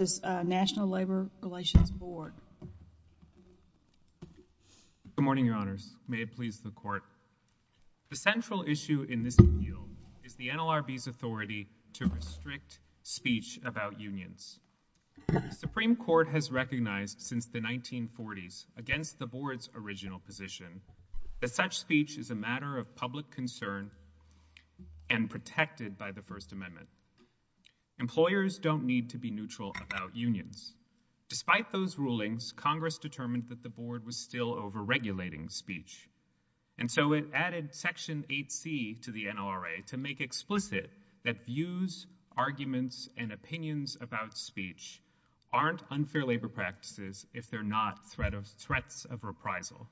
is the NLRB's authority to restrict speech about unions. The Supreme Court has recognized since the 1940s against the board's original position that such speech is a matter of public unions. Despite those rulings, Congress determined that the board was still overregulating speech, and so it added section 8c to the NLRA to make explicit that views, arguments, and opinions about speech aren't unfair labor practices if they're not threats of reprisal.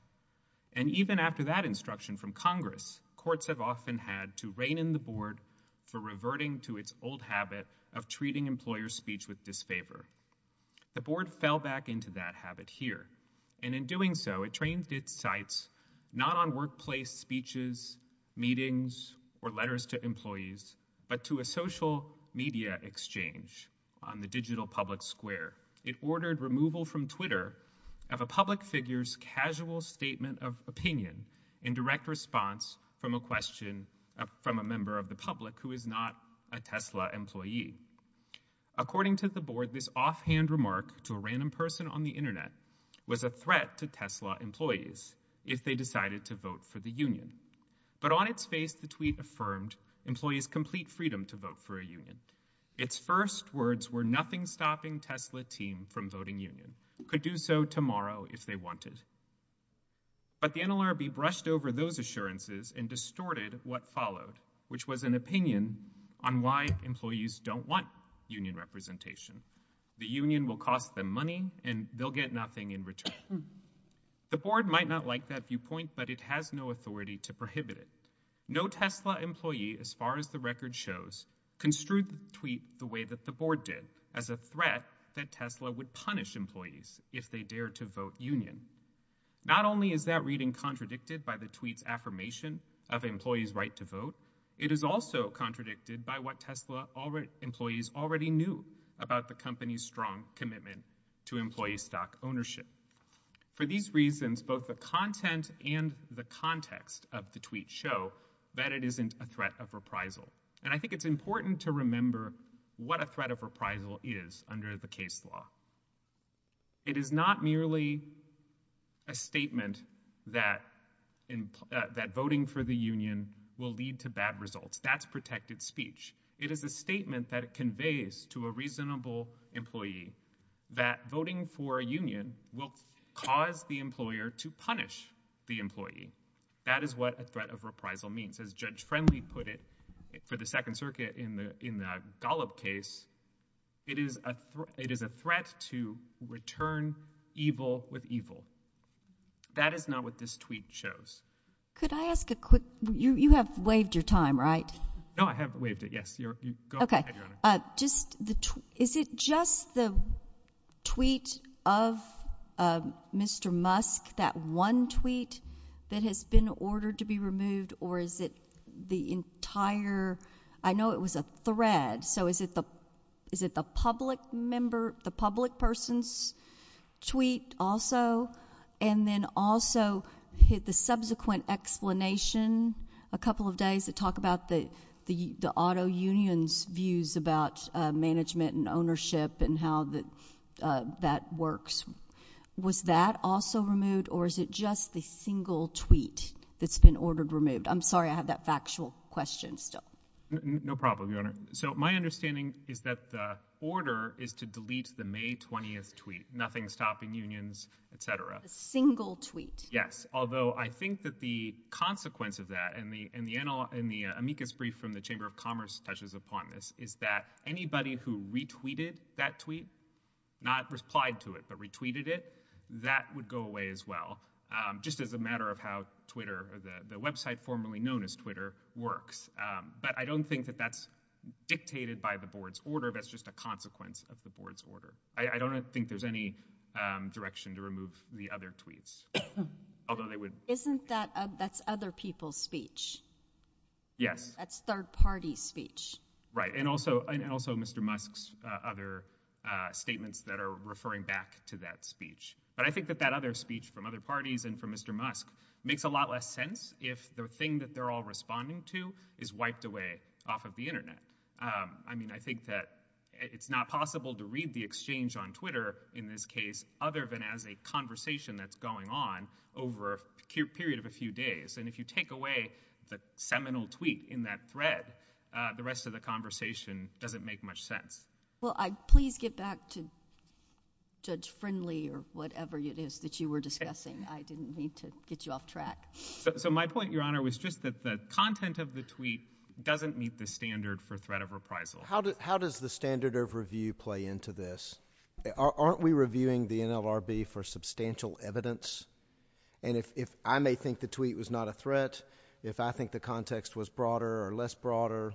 And even after that instruction from Congress, courts have often had to rein in the board for reverting to its old favor. The board fell back into that habit here, and in doing so, it trained its sites not on workplace speeches, meetings, or letters to employees, but to a social media exchange on the digital public square. It ordered removal from Twitter of a public figure's casual statement of opinion in direct response from a question from a member of the public who is not a Tesla employee. According to the board, this offhand remark to a random person on the internet was a threat to Tesla employees if they decided to vote for the union. But on its face, the tweet affirmed employees complete freedom to vote for a union. Its first words were nothing stopping Tesla team from voting union, could do so tomorrow if they wanted. But the NLRB brushed over those assurances and distorted what followed, which was an opinion on why employees don't want union representation. The union will cost them money, and they'll get nothing in return. The board might not like that viewpoint, but it has no authority to prohibit it. No Tesla employee, as far as the record shows, construed the tweet the way that the board did, as a threat that Tesla would punish employees if they dare to vote union. Not only is that reading contradicted by the tweet's affirmation of employees' right to vote, it is also contradicted by what Tesla employees already knew about the company's strong commitment to employee stock ownership. For these reasons, both the content and the context of the tweet show that it isn't a threat of reprisal. And I think it's not merely a statement that voting for the union will lead to bad results. That's protected speech. It is a statement that conveys to a reasonable employee that voting for a union will cause the employer to punish the employee. That is what a threat of reprisal means. As Judge Friendly put it for the Second Circuit in the Golub case, it is a threat to return evil with evil. That is not what this tweet shows. Could I ask a quick, you have waived your time, right? No, I have waived it, yes. Go ahead, Your Honor. Okay. Is it just the tweet of Mr. Musk, that one tweet that has been ordered to be removed, or is it the entire, I know it was a thread, so is it the public member, the public person's tweet also, and then also the subsequent explanation a couple of days that talk about the auto union's views about management and ownership and how that works. Was that also removed, or is it just the single tweet that's been ordered removed? I'm sorry, I have that factual question still. No problem, Your Honor. So my understanding is that the order is to delete the May 20th tweet, nothing stopping unions, etc. A single tweet. Yes, although I think that the consequence of that, and the amicus brief from the Chamber of that tweet, not replied to it, but retweeted it, that would go away as well, just as a matter of how Twitter, the website formerly known as Twitter, works. But I don't think that that's dictated by the board's order, that's just a consequence of the board's order. I don't think there's any direction to remove the other tweets, although they would. Isn't that, that's other people's speech? Yes. That's third party speech. Right, and also Mr. Musk's other statements that are referring back to that speech. But I think that that other speech from other parties and from Mr. Musk makes a lot less sense if the thing that they're all responding to is wiped away off of the internet. I mean, I think that it's not possible to read the exchange on Twitter in this case, other than as a conversation that's going on over a period of a few days. And if you take away the seminal tweet in that thread, the rest of the conversation doesn't make much sense. Well, please get back to Judge Friendly or whatever it is that you were discussing. I didn't need to get you off track. So my point, Your Honor, was just that the content of the tweet doesn't meet the standard for threat of reprisal. How does the standard of review play into this? Aren't we reviewing the NLRB for substantial evidence? And if I may think the tweet was not a threat, if I think the context was broader or less broader,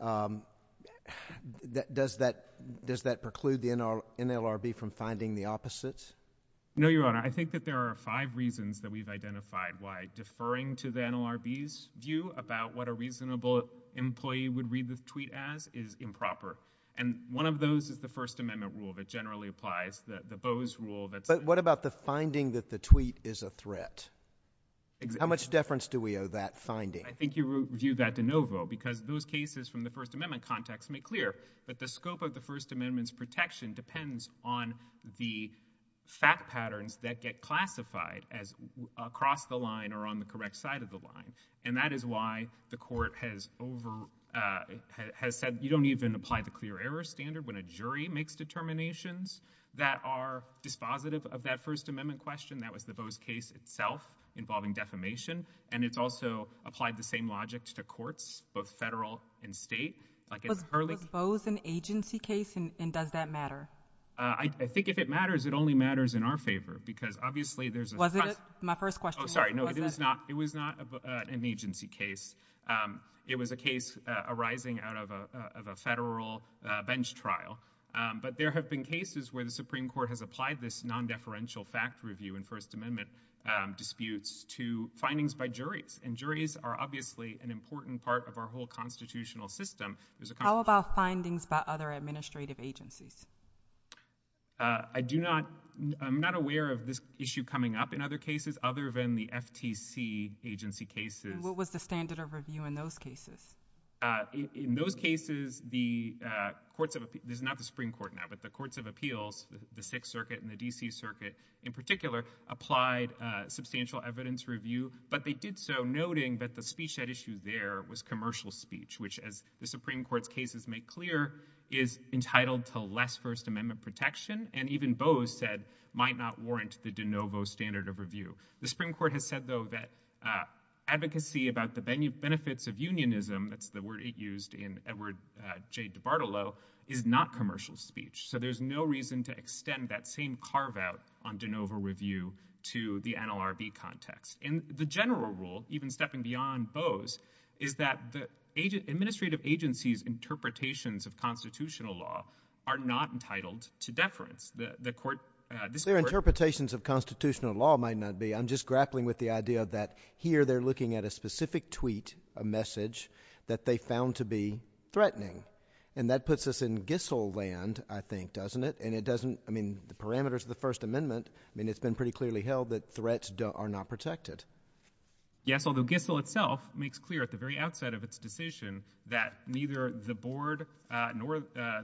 does that preclude the NLRB from finding the opposite? No, Your Honor. I think that there are five reasons that we've identified why deferring to the NLRB's view about what a reasonable employee would read the tweet as improper. And one of those is the First Amendment rule that generally applies, the Boe's rule. But what about the finding that the tweet is a threat? How much deference do we owe that finding? I think you view that de novo, because those cases from the First Amendment context make clear that the scope of the First Amendment's protection depends on the fact patterns that get classified as across the line or on the correct side of the line. And that is why the Court has said, you don't even apply the clear error standard when a jury makes determinations that are dispositive of that First Amendment question. That was the Boe's case itself involving defamation. And it's also applied the same logic to courts, both federal and state. Was Boe's an agency case, and does that matter? I think if it matters, it only matters in our favor, because obviously there's a— Was it? My first question— Oh, sorry. No, it was not an agency case. It was a case arising out of a federal bench trial. But there have been cases where the Supreme Court has applied this non-deferential fact review in First Amendment disputes to findings by juries. And juries are obviously an important part of our whole constitutional system. There's a— How about findings by other administrative agencies? I do not—I'm not aware of this issue coming up in other cases other than the FTC agency cases. What was the standard of review in those cases? In those cases, the courts of—this is not the Supreme Court now, but the courts of appeals, the Sixth Circuit and the D.C. Circuit in particular, applied substantial evidence review. But they did so noting that the speech at issue there was commercial speech, which, as the Supreme Court's cases make clear, is entitled to less First Amendment protection, and even Boe's said might not warrant the de novo standard of review. The Supreme Court has said, though, that advocacy about the benefits of unionism—that's the word it used in Edward J. DiBartolo—is not commercial speech. So there's no reason to extend that same carve-out on de novo review to the NLRB context. And the general rule, even stepping beyond Boe's, is that the administrative agency's interpretations of constitutional law are not entitled to deference. The court— Their interpretations of constitutional law might not be. I'm just grappling with the idea that here they're looking at a specific tweet, a message, that they found to be threatening. And that puts us in Gissel land, I think, doesn't it? And it doesn't—I mean, the parameters of the First Amendment—I mean, it's been pretty clearly held that threats are not protected. Yes, although Gissel itself makes clear at the very outset of its decision that neither the board nor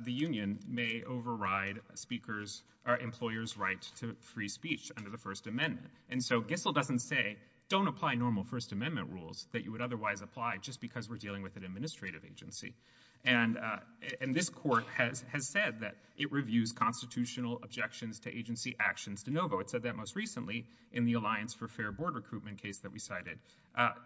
the union may override speakers' or employers' right to free speech under the First Amendment. And so Gissel doesn't say, don't apply normal First Amendment rules that you would otherwise apply just because we're dealing with an administrative agency. And this court has said that it reviews constitutional objections to agency actions de novo. It said that most recently in the Alliance for Fair Board Recruitment case that we cited.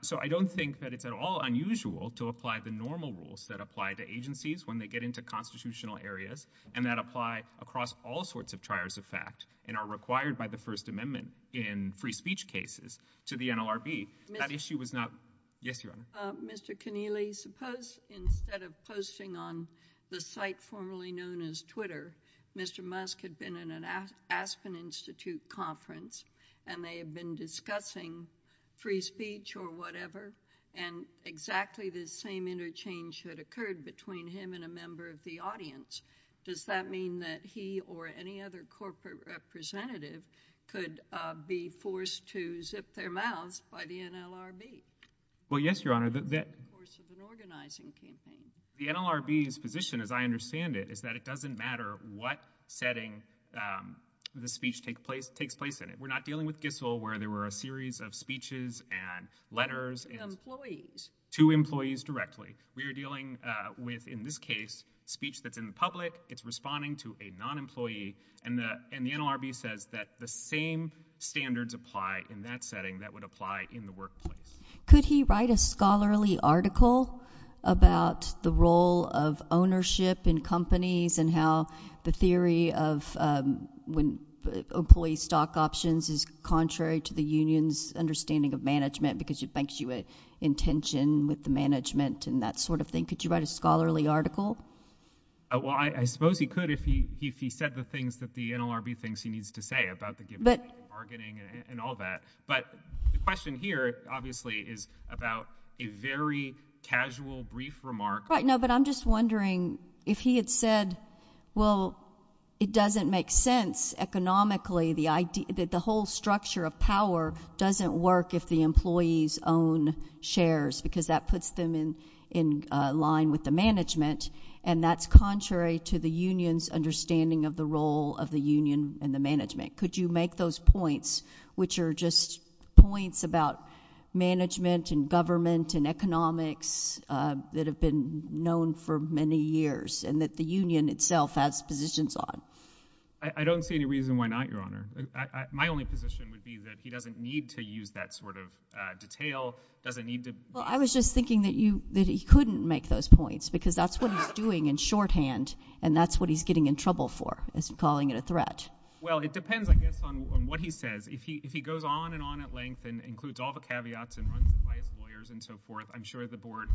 So I don't think that it's at all unusual to apply the normal rules that apply to agencies when they get into constitutional areas and that apply across all sorts of triars of fact and are required by the First Amendment in free speech cases to the NLRB. That issue was not—yes, Your Honor. Mr. Keneally, suppose instead of posting on the site formerly known as Twitter, Mr. Musk had been in an Aspen Institute conference and they had been discussing free speech or whatever and exactly the same interchange had occurred between him and a member of the audience. Does that mean that he or any other corporate representative could be forced to zip their mouths by the NLRB? Well, yes, Your Honor. The NLRB's position, as I understand it, is that it doesn't matter what setting the speech takes place in. We're not dealing with Gissell where there were a series of speeches and letters to employees directly. We are dealing with, in this case, speech that's in the public, it's responding to a non-employee, and the NLRB says that the same standards apply in that setting that would apply in the workplace. Could he write a scholarly article about the role of ownership in companies and how the theory of employee stock options is contrary to the union's understanding of management because it banks you in intention with the management and that sort of thing? Could you write a scholarly article? Well, I suppose he could if he said the things that the NLRB thinks he needs to say about the given bargaining and all that, but the question here, obviously, is about a very casual brief remark. Right, no, but I'm just wondering if he had said, well, it doesn't make sense economically that the whole structure of power doesn't work if the employees own shares because that puts them in line with the management and that's contrary to the union's understanding of the role of the union and the management. Could you make those points, which are just points about management and government and economics that have been known for many years and that the union itself has positions on? I don't see any reason why not, Your Honor. My only position would be that he doesn't need to use that sort of detail, doesn't need to... Well, I was just thinking that he couldn't make those points because that's what he's doing in shorthand and that's what he's getting in trouble for, is calling it a threat. Well, it depends, I guess, on what he says. If he goes on and on at length and includes all the caveats and runs twice lawyers and so forth, I'm sure the board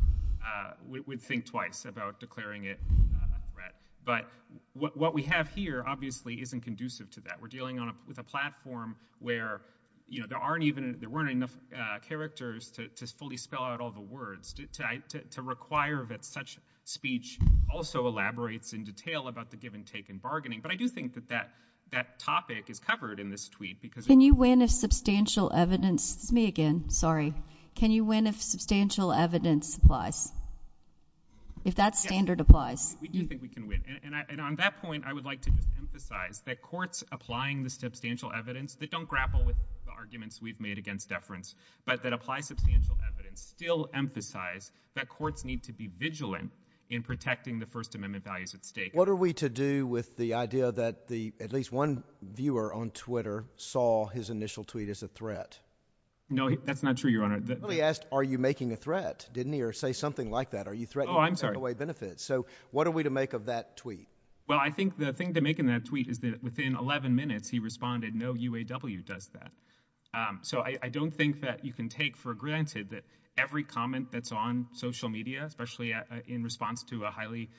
would think twice about declaring it a threat, but what we have here, obviously, isn't conducive to that. We're dealing with a platform where there weren't enough characters to fully spell out all the words to require that such speech also elaborates in detail about the given take in bargaining, but I do think that topic is covered in this tweet because... Can you win if substantial evidence... It's me again, sorry. Can you win if substantial evidence applies? If that standard applies? We do think we can win, and on that point, I would like to just emphasize that courts applying the substantial evidence that don't grapple with the arguments we've made against deference, but that apply substantial evidence, still emphasize that courts need to be vigilant in protecting the First Amendment values at stake. What are we to do with the idea that at least one viewer on Twitter saw his initial tweet as a threat? No, that's not true, Your Honor. Well, he asked, are you making a threat, didn't he? Or say something like that. Are you threatening to take away benefits? So what are we to make of that tweet? Well, I think the thing to make in that tweet is that within 11 minutes, he responded, no UAW does that. So I don't think that you can take for granted that every comment that's on social media, especially in response to a highly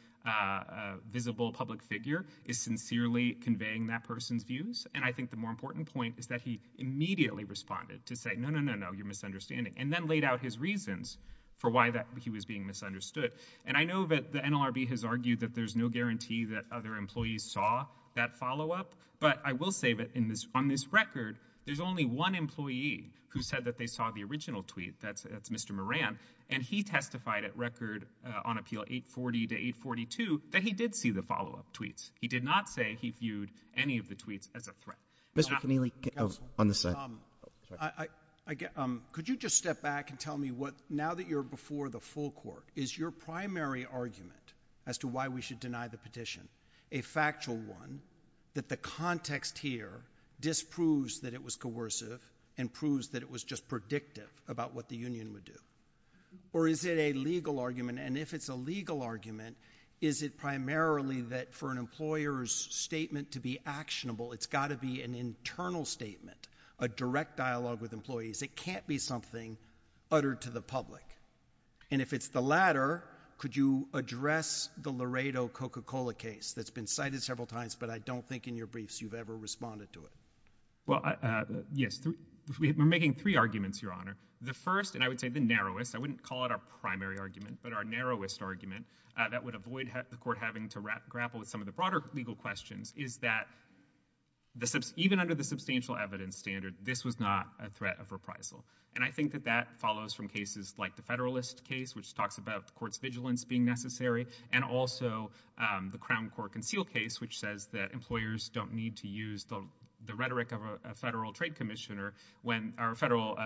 visible public figure, is sincerely conveying that person's views. And I think the more important point is that he immediately responded to say, no, no, no, no, you're misunderstanding, and then laid out his reasons for why that he was being misunderstood. And I know that the NLRB has argued that there's no guarantee that other employees saw that follow-up, but I will say that on this record, there's only one employee who said that they saw the original tweet, that's Mr. Moran, and he testified at record on appeal 840 to 842 that he did see the follow-up tweets. He did not say he viewed any of the tweets as a threat. Mr. Keneally, on the side. Could you just step back and tell me what, now that you're before the full court, is your primary argument as to why we should deny the petition a factual one that the context here disproves that it was coercive and proves that it was just predictive about what the union would do? Or is it a legal argument? And if it's a legal argument, is it primarily that for an employer's statement to be actionable, it's got to be an internal statement, a direct dialogue with employees. It can't be something uttered to the public. And if it's the latter, could you address the Laredo Coca-Cola case that's been cited several times, but I don't think in your briefs you've ever responded to it? Well, yes, we're making three arguments, Your Honor. The first, I would say the narrowest, I wouldn't call it our primary argument, but our narrowest argument that would avoid the court having to grapple with some of the broader legal questions is that even under the substantial evidence standard, this was not a threat of reprisal. And I think that that follows from cases like the Federalist case, which talks about the court's vigilance being necessary, and also the Crown Court Conceal case, which says that employers don't need to use the rhetoric of a Federal Trade Commissioner or a Federal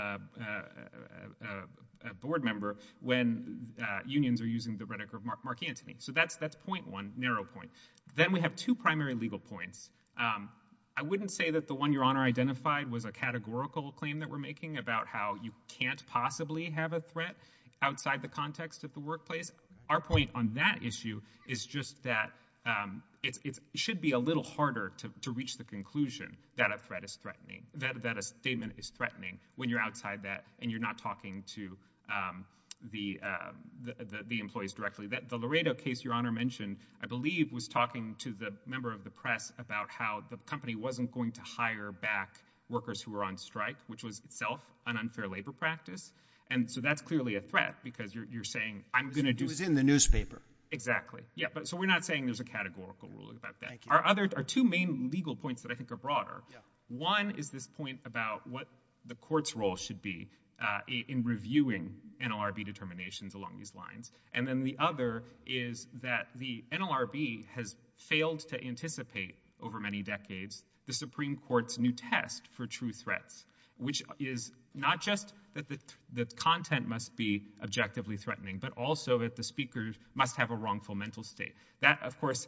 Board member when unions are using the rhetoric of Mark Antony. So that's point one, narrow point. Then we have two primary legal points. I wouldn't say that the one Your Honor identified was a categorical claim that we're making about how you can't possibly have a threat outside the context of the workplace. Our point on that issue is just that it should be a little conclusion that a threat is threatening, that a statement is threatening when you're outside that and you're not talking to the employees directly. The Laredo case, Your Honor mentioned, I believe, was talking to the member of the press about how the company wasn't going to hire back workers who were on strike, which was itself an unfair labor practice. And so that's clearly a threat, because you're saying, I'm going to do- It was in the newspaper. Exactly. Yeah. So we're not saying there's a categorical ruling about that. Thank you. There are two main legal points that I think are broader. One is this point about what the court's role should be in reviewing NLRB determinations along these lines. And then the other is that the NLRB has failed to anticipate over many decades the Supreme Court's new test for true threats, which is not just that the content must be objectively threatening, but also that the speaker must have a wrongful mental state. That, of course,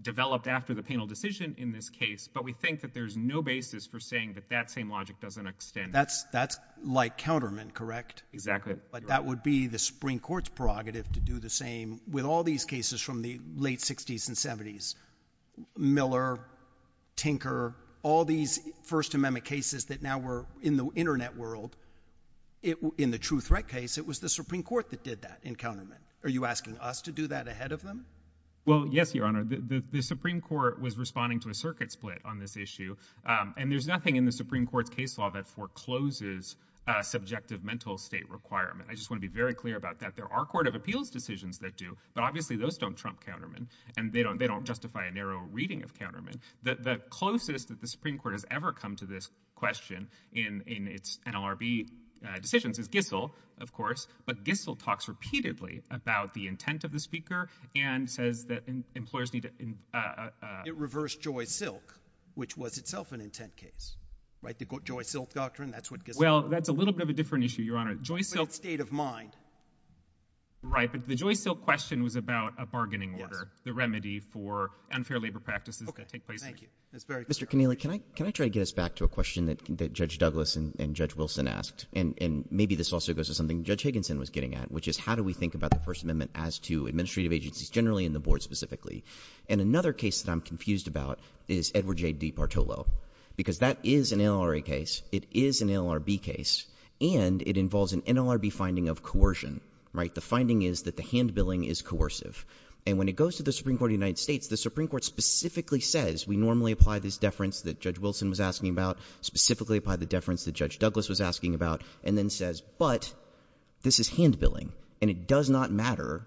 developed after the panel decision in this case, but we think that there's no basis for saying that that same logic doesn't extend- That's like countermeasure, correct? Exactly. But that would be the Supreme Court's prerogative to do the same with all these cases from the late 60s and 70s. Miller, Tinker, all these First Amendment cases that now were in the internet world, in the true threat case, it was the Supreme Court that did that in countermeasure. Are you asking us to do that ahead of them? Well, yes, Your Honor. The Supreme Court was responding to a circuit split on this issue, and there's nothing in the Supreme Court's case law that forecloses subjective mental state requirement. I just want to be very clear about that. There are Court of Appeals decisions that do, but obviously those don't trump countermeasure, and they don't justify a narrow reading of countermeasure. The closest that the Supreme Court has ever come to this question in its NLRB decisions is Gissel, of course, but Gissel talks repeatedly about the intent of the speaker and says that employers need to- It reversed Joy Silk, which was itself an intent case, right? The Joy Silk Doctrine, that's what Gissel- Well, that's a little bit of a different issue, Your Honor. Joy Silk- But it's state of mind. Right, but the Joy Silk question was about a bargaining order, the remedy for unfair labor practices that take place- Okay, thank you. That's very clear. Mr. Connealy, can I try to get us back to a question that Judge Douglas and Judge Wilson asked, and maybe this also goes to something Judge Higginson was getting at, which is how do we think about the First Amendment as to administrative agencies generally and the Board specifically? And another case that I'm confused about is Edward J. DePartolo, because that is an NLRA case, it is an NLRB case, and it involves an NLRB finding of coercion, right? The finding is that the hand-billing is coercive, and when it goes to the Supreme Court of the United States, the Supreme Court specifically says, we normally apply this deference that Judge Wilson was asking about, specifically apply the deference that Judge Douglas was asking about, and then says, but this is hand-billing, and it does not matter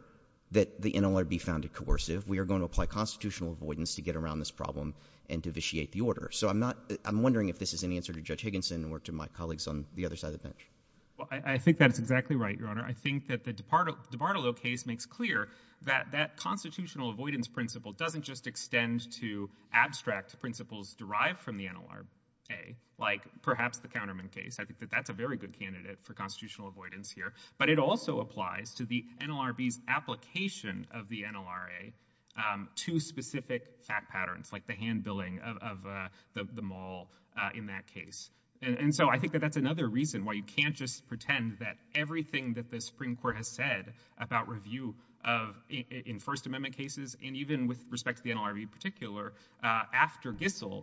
that the NLRB found it coercive, we are going to apply constitutional avoidance to get around this problem and to vitiate the order. So I'm wondering if this is any answer to Judge Higginson or to my colleagues on the other side of the bench. Well, I think that's exactly right, Your Honor. I think that the DePartolo case makes clear that that constitutional avoidance principle doesn't just extend to abstract principles derived from the NLRA, like perhaps the Counterman case, I think that that's a very good candidate for constitutional avoidance here, but it also applies to the NLRB's application of the NLRA to specific fact patterns, like the hand-billing of the mall in that case. And so I think that that's another reason why you can't just pretend that everything that the Supreme Court has said about review of, in First Amendment cases, and even with the NLRB,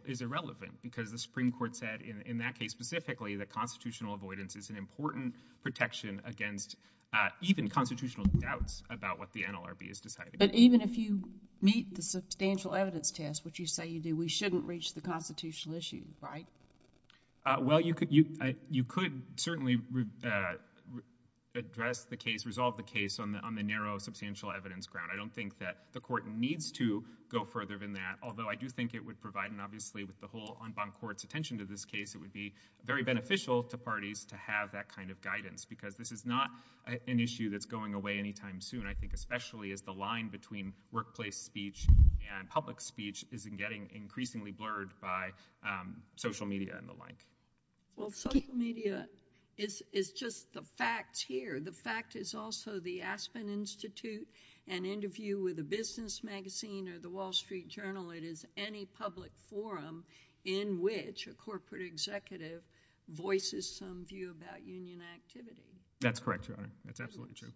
is irrelevant, because the Supreme Court said in that case specifically that constitutional avoidance is an important protection against even constitutional doubts about what the NLRB is deciding. But even if you meet the substantial evidence test, which you say you do, we shouldn't reach the constitutional issue, right? Well, you could certainly address the case, resolve the case on the narrow substantial evidence ground. I don't think that the Court needs to go further than that, although I think that it would be very beneficial to parties to have that kind of guidance, because this is not an issue that's going away any time soon, I think, especially as the line between workplace speech and public speech is getting increasingly blurred by social media and the like. Well, social media is just the facts here. The fact is also the Aspen Institute, an interview with a business magazine or the Wall Street Forum, in which a corporate executive voices some view about union activity. That's correct, Your Honor. That's absolutely true.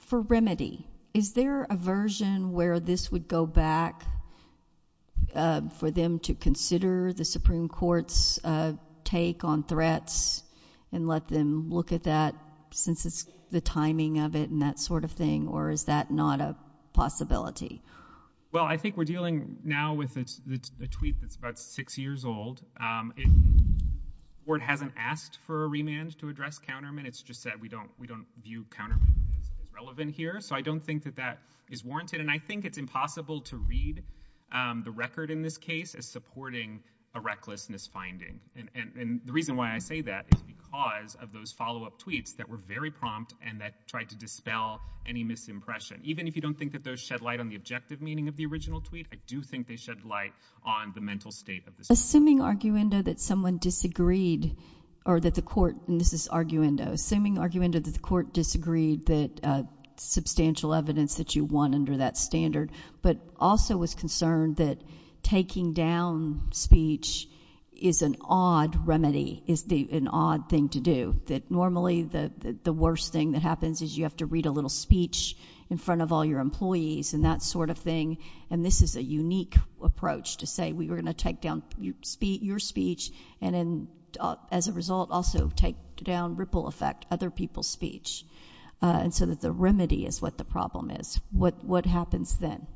For remedy, is there a version where this would go back for them to consider the Supreme Court's take on threats and let them look at that since it's the timing of it and that sort of thing, or is that not a possibility? Well, I think we're dealing now with a tweet that's about six years old. The Court hasn't asked for a remand to address countermeasures. It's just that we don't view countermeasures as relevant here, so I don't think that that is warranted, and I think it's impossible to read the record in this case as supporting a recklessness finding, and the reason why I say that is because of those follow-up tweets that were very prompt and that tried to dispel any misimpression. Even if you don't think that those shed light on the objective meaning of the original tweet, I do think they shed light on the mental state of this case. Assuming, arguendo, that someone disagreed or that the Court—and this is arguendo—assuming, arguendo, that the Court disagreed that substantial evidence that you want under that standard, but also was concerned that taking down speech is an odd remedy, is an odd thing to do, that normally the worst thing that happens is you have to read a little speech in front of all your employees and that sort of thing, and this is a unique approach to say we were going to take down your speech and then, as a result, also take down ripple effect, other people's speech, and so that the remedy is what the problem is. What happens then?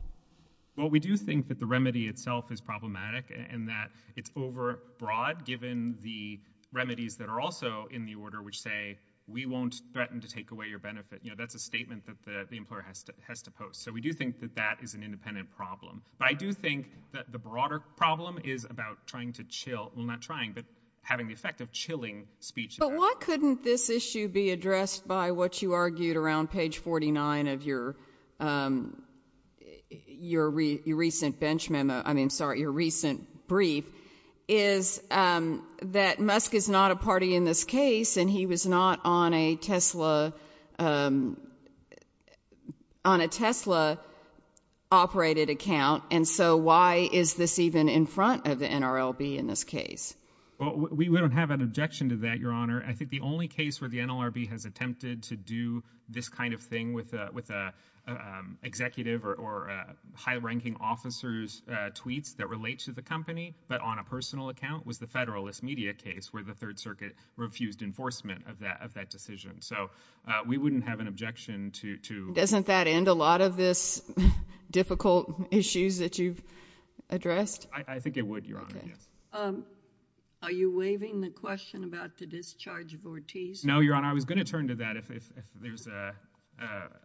Well, we do think that the remedy itself is problematic and that it's over broad given the remedies that are also in the order which say we won't threaten to take away your benefit. You know, that's a statement that the employer has to post, so we do think that that is an independent problem, but I do think that the broader problem is about trying to chill—well, not trying, but having the effect of chilling speech. But why couldn't this issue be addressed by what you argued around page 49 of your recent bench memo—I mean, sorry, your recent brief—is that Musk is not a party in this case and he was not on a Tesla—on a Tesla-operated account, and so why is this even in front of the NRLB in this case? Well, we don't have an objection to that, Your Honor. I think the only case where the NLRB has attempted to do this kind of thing with an executive or high-ranking officer's tweets that relate to the company, but on a personal account, was the Federalist Media case where the Third Circuit refused enforcement of that decision, so we wouldn't have an objection to— Doesn't that end a lot of these difficult issues that you've addressed? I think it would, Your Honor. Are you waiving the question about the discharge of Ortiz? No, Your Honor. I was going to turn to that if there's a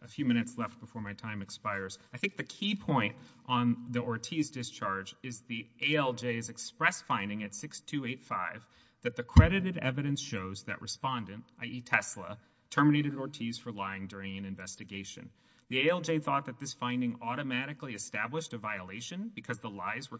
few minutes left before my time expires. I think the key point on the Ortiz discharge is the ALJ's express finding at 6285 that the credited evidence shows that Respondent—i.e., Tesla—terminated Ortiz for lying during an investigation. The ALJ thought that this finding automatically established a violation because the lies were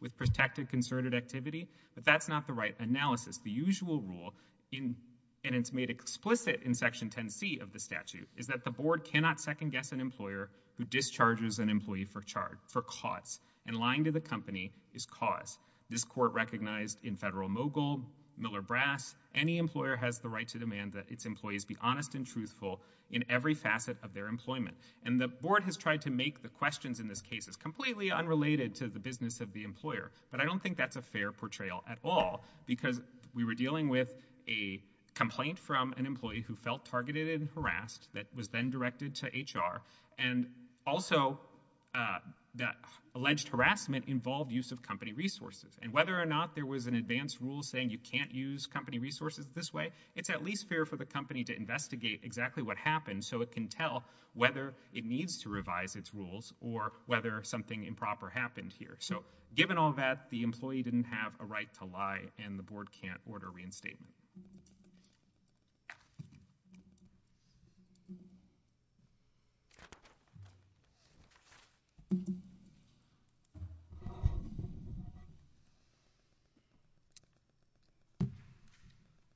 with protected concerted activity, but that's not the right analysis. The usual rule, and it's made explicit in Section 10C of the statute, is that the Board cannot second-guess an employer who discharges an employee for cause, and lying to the company is cause. This Court recognized in Federal Mogul, Miller-Brass, any employer has the right to demand that its employees be honest and truthful in every facet of their employment, and the Board has tried to make the questions in this case as completely unrelated to the business of the employer, but I don't think that's a fair portrayal at all, because we were dealing with a complaint from an employee who felt targeted and harassed that was then directed to HR, and also the alleged harassment involved use of company resources, and whether or not there was an advanced rule saying you can't use company resources this way, it's at least fair for the company to investigate exactly what happened so it can tell whether it needs to revise its rules or whether something improper happened here. So given all that, the employee didn't have a right to lie, and the Board can't order reinstatement.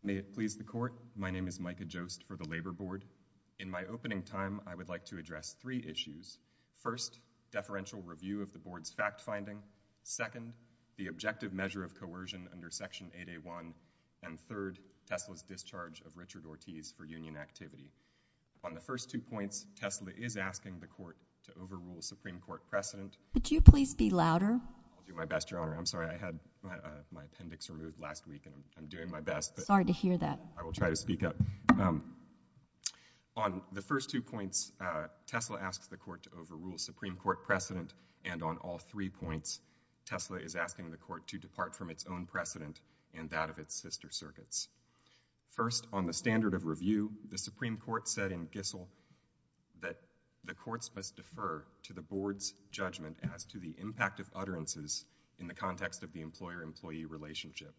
May it please the Court, my name is Micah Jost for the Labor Board. In my opening time, I would like to address three issues. First, deferential review of the Board's fact-finding. Second, the objective measure of coercion under Section 8A1, and third, Tesla's discharge of Richard Ortiz for union activity. On the first two points, Tesla is asking the Court to overrule Supreme Court precedent. Could you please be louder? I'll do my best, Your Honor. I'm sorry, I had my appendix removed last week, and I'm doing my best. Sorry to hear that. I will try to speak up. On the first two points, Tesla asks the Court to overrule Supreme Court precedent, and on all three points, Tesla is asking the Court to depart from its own precedent and that of its sister circuits. First, on the standard of review, the Supreme Court said in Gissel that the courts must defer to the Board's judgment as to the impact of utterances in the context of the employer-employee relationship.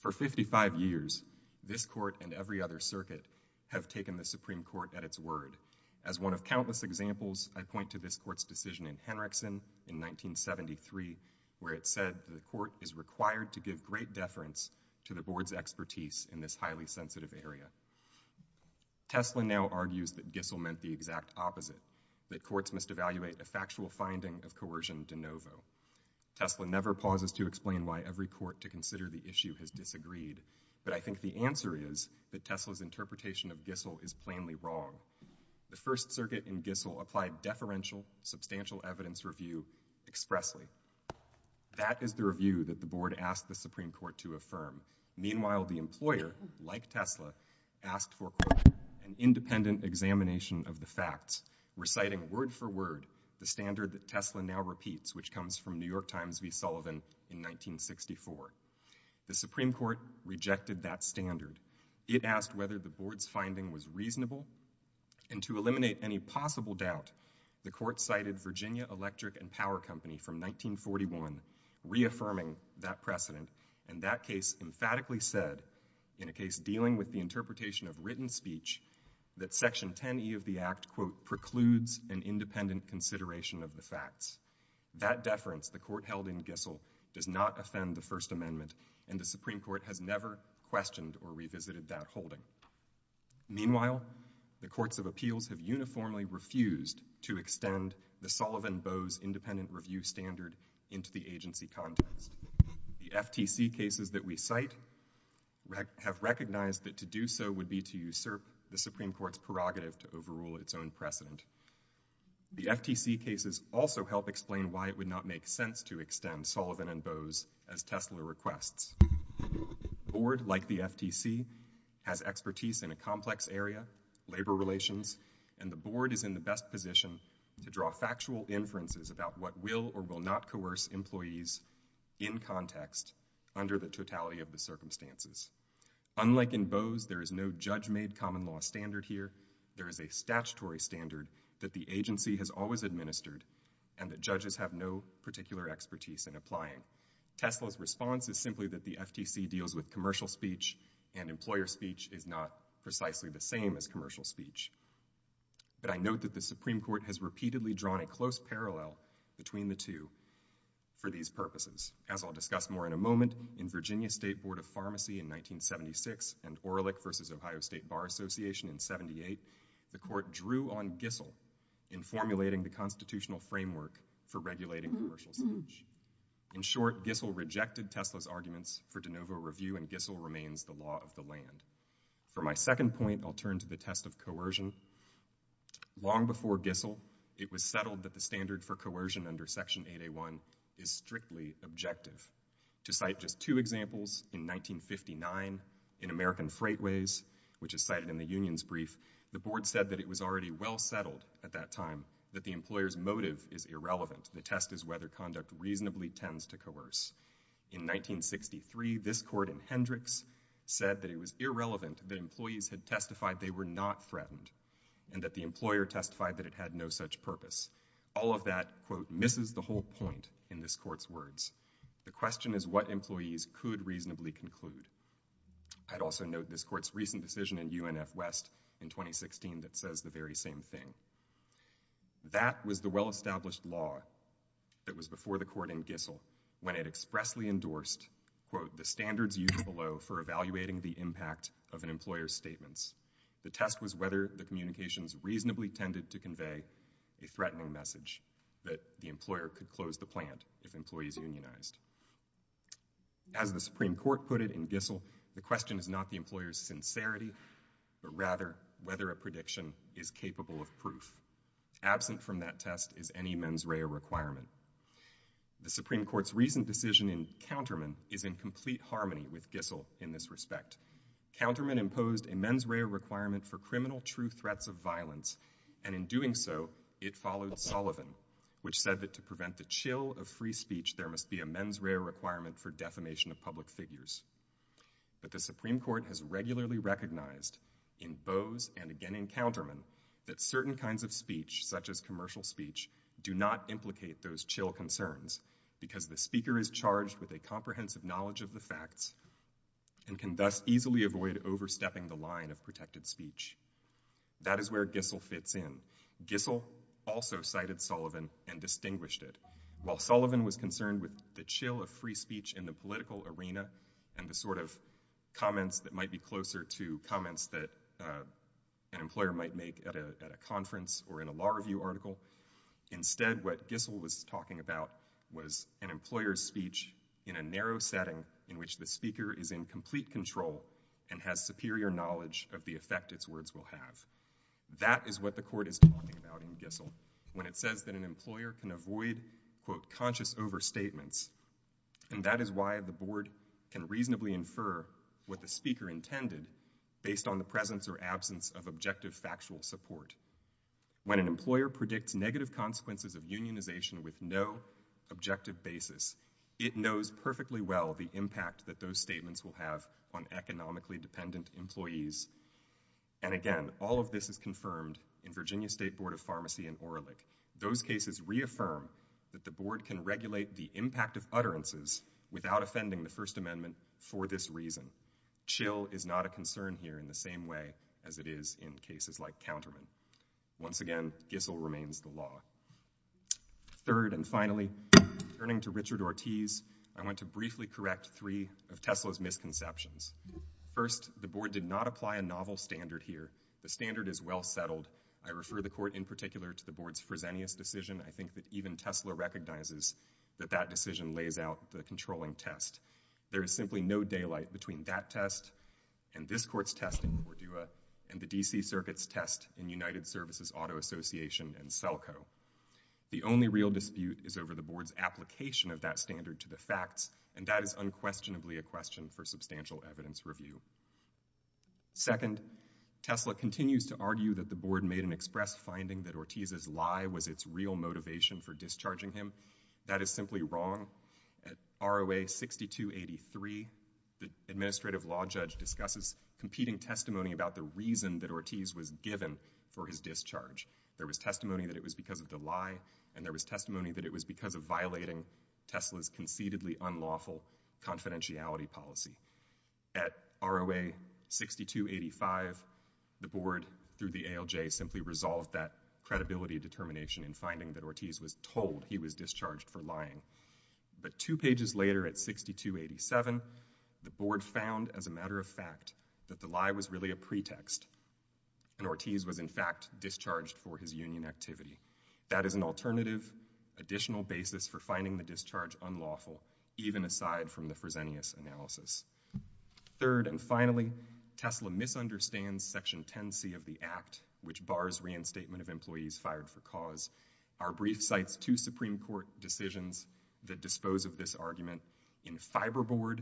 For 55 years, this Court and every other circuit have taken the Supreme Court at soaring with disdain out of expression. Only now, though, is it calling to account what the Supreme Court had said in 1973, where it said the Court is required to give great deference to the board's expertise in this highly sensitive area. Tesla now argues that Gissel meant the exact expressly. That is the review that the board asked the Supreme Court to affirm. Meanwhile, the employer, like Tesla, asked for an independent examination of the facts, reciting word for word the standard that Tesla now repeats, which comes from New York Times v. Sullivan in 1964. The Supreme Court rejected that standard. It asked whether the board's finding was reasonable, and to eliminate any possible doubt, the Court cited Virginia Electric and Power Company from 1941, reaffirming that precedent, and that case emphatically said, in a case dealing with the interpretation of written speech, that Section 10e of the Act, quote, precludes an independent consideration of the facts. That deference the Court held in Gissel does not offend the First Amendment, and the Supreme Court has never questioned or revisited that holding. Meanwhile, the courts of appeals have uniformly refused to extend the Sullivan and Bowes independent review standard into the agency context. The FTC cases that we cite have recognized that to do so would be to usurp the Supreme Court's prerogative to overrule its own precedent. The FTC cases also help explain why it would not make sense to extend Sullivan and Bowes as Tesla requests. A board like the FTC has expertise in a complex area, labor relations, and the board is in the best position to draw factual inferences about what will or will not coerce employees in context under the totality of the circumstances. Unlike in Bowes, there is no judge-made common law standard here. There is a statutory standard that the agency has always administered, and that judges have no particular expertise in applying. Tesla's response is simply that the FTC deals with commercial speech, and employer speech is not precisely the same as commercial speech. But I note that the Supreme Court has repeatedly drawn a close parallel between the two for these purposes. As I'll discuss more in a moment, in Virginia State Board of Pharmacy in 1976 and Orlick v. Ohio State Bar Association in 78, the court drew on Gissel in formulating the constitutional framework for regulating commercial speech. In short, Gissel rejected Tesla's arguments for de novo review, and Gissel remains the law of the Long before Gissel, it was settled that the standard for coercion under Section 8A1 is strictly objective. To cite just two examples, in 1959 in American Freightways, which is cited in the union's brief, the board said that it was already well settled at that time that the employer's motive is irrelevant. The test is whether conduct reasonably tends to coerce. In 1963, this court in Hendricks said that it was irrelevant that employees had testified they were not threatened and that the employer testified that it had no such purpose. All of that, quote, misses the whole point in this court's words. The question is what employees could reasonably conclude. I'd also note this court's recent decision in UNF West in 2016 that says the very same thing. That was the well-established law that was before the court in Gissel when it expressly endorsed, quote, the standards used below for evaluating the impact of an employer's the test was whether the communications reasonably tended to convey a threatening message that the employer could close the plant if employees unionized. As the Supreme Court put it in Gissel, the question is not the employer's sincerity, but rather whether a prediction is capable of proof. Absent from that test is any mens rea requirement. The Supreme Court's recent decision in Counterman is in complete harmony with Gissel in this respect. Counterman imposed a mens rea requirement for criminal true threats of violence and in doing so, it followed Sullivan which said that to prevent the chill of free speech, there must be a mens rea requirement for defamation of public figures. But the Supreme Court has regularly recognized in Bose and again in Counterman that certain kinds of speech such as commercial speech do not implicate those chill concerns because the speaker is charged with a and can thus easily avoid overstepping the line of protected speech. That is where Gissel fits in. Gissel also cited Sullivan and distinguished it. While Sullivan was concerned with the chill of free speech in the political arena and the sort of comments that might be closer to comments that an employer might make at a conference or in a law review article, instead what Gissel was talking about was an employer's speech in a narrow setting in which the speaker is in complete control and has superior knowledge of the effect its words will have. That is what the court is talking about in Gissel when it says that an employer can avoid conscious overstatements and that is why the board can reasonably infer what the speaker intended based on the presence or absence of objective factual support. When an employer predicts negative consequences of unionization with no objective basis, it knows perfectly well the statements will have on economically dependent employees. And again, all of this is confirmed in Virginia State Board of Pharmacy and Oralik. Those cases reaffirm that the board can regulate the impact of utterances without offending the First Amendment for this reason. Chill is not a concern here in the same way as it is in cases like Counterman. Once again, Gissel remains the of Tesla's misconceptions. First, the board did not apply a novel standard here. The standard is well settled. I refer the court in particular to the board's Fresenius decision. I think that even Tesla recognizes that that decision lays out the controlling test. There is simply no daylight between that test and this court's test in Cordua and the D.C. Circuit's test in United Services Auto Association and SELCO. The only real dispute is over the board's application of that standard to the facts, and that is unquestionably a question for substantial evidence review. Second, Tesla continues to argue that the board made an express finding that Ortiz's lie was its real motivation for discharging him. That is simply wrong. At ROA 6283, the administrative law judge discusses competing testimony about the reason that Ortiz was given for his discharge. There was testimony that it was because of the lie, and there was testimony that it was because of violating Tesla's conceitedly unlawful confidentiality policy. At ROA 6285, the board through the ALJ simply resolved that credibility determination in finding that Ortiz was told he was discharged for lying. But two pages later at 6287, the board found as a matter of fact that the lie was really a pretext, and Ortiz was in fact discharged for his union activity. That is an alternative additional basis for finding the discharge unlawful even aside from the Fresenius analysis. Third and finally, Tesla misunderstands Section 10c of the Act, which bars reinstatement of employees fired for cause. Our brief cites two Supreme Court decisions that dispose of this argument. In Fiberboard,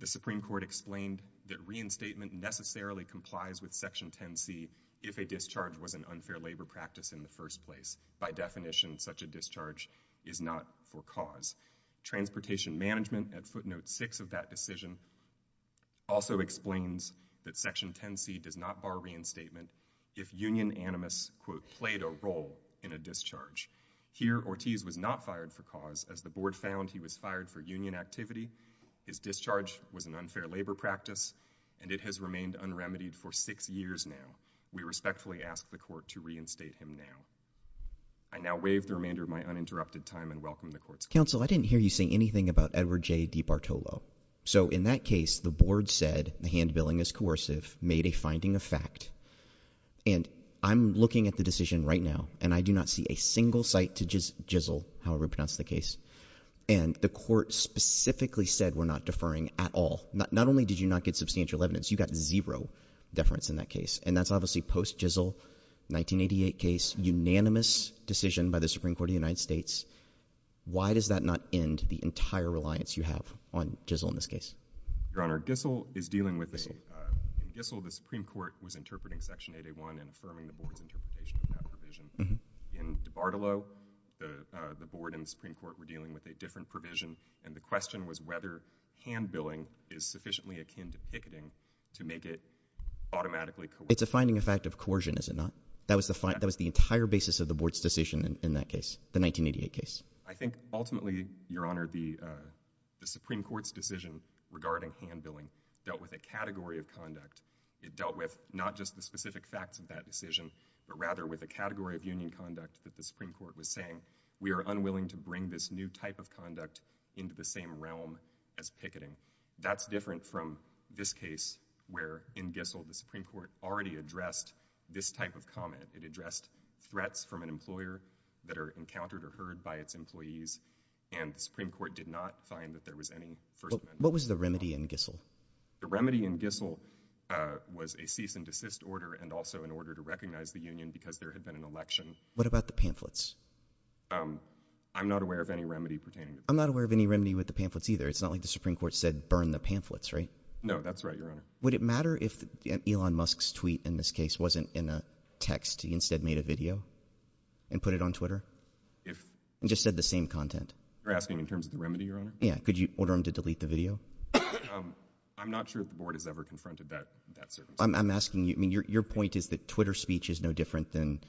the Supreme Court explained that reinstatement necessarily complies with Section 10c if a discharge was an unfair labor practice in the first place. By definition, such a discharge is not for cause. Transportation Management at footnote 6 of that decision also explains that Section 10c does not bar reinstatement if union animus played a role in a discharge. Here, Ortiz was not fired for cause as the board found he was fired for union activity, his discharge was an unfair labor practice, and it has remained unremitied for six years now. We respectfully ask the court to reinstate him now. I now wave the remainder of my uninterrupted time and welcome the court's counsel. I didn't hear you say anything about Edward J. DiBartolo. So in that case, the board said the hand-billing is coercive, made a finding of fact, and I'm looking at the decision right now, and I do not see a single site to just jizzle, however pronounced the case, and the court specifically said we're not deferring at all. Not only did you not get substantial evidence, you got zero deference in that case, and that's obviously post-jizzle, 1988 case, unanimous decision by the Supreme Court of the United States. Why does that not end the entire reliance you have on jizzle in this case? Your Honor, jizzle is dealing with a—jizzle, the Supreme Court was interpreting Section 8A1 and affirming the board's interpretation of that provision. In DiBartolo, the board and the Supreme Court were dealing with a different provision, and the question was whether hand-billing is sufficiently akin to picketing to make it automatically coercive. It's a finding of fact of coercion, is it not? That was the entire basis of the board's decision in that case, the 1988 case. I think ultimately, Your Honor, the Supreme Court's decision regarding hand-billing dealt with a category of conduct. It dealt with not just the specific facts of that decision, but rather with a category of union conduct that the Supreme Court was saying, we are unwilling to bring this new type of conduct into the same realm as picketing. That's different from this case where, in gizzle, the Supreme Court already addressed this type of comment. It addressed threats from an employer that are encountered or heard by its employees, and the Supreme Court did not find that there was any first amendment— What was the remedy in gizzle? The remedy in gizzle was a cease and desist order and also an order to recognize the union because there had been an election. What about the pamphlets? I'm not aware of any remedy pertaining to pamphlets. I'm not aware of any remedy with the pamphlets either. It's not like the Supreme Court said, burn the pamphlets, right? No, that's right, Your Honor. Would it matter if Elon Musk's tweet in this case wasn't in a text? He instead made a video and put it on Twitter and just said the same content? You're asking in terms of the remedy, Your Honor? Yeah. Could you order him to delete the video? I'm not sure if the board has ever confronted that circumstance. I'm asking you—I mean, your point is that Twitter speech is no different than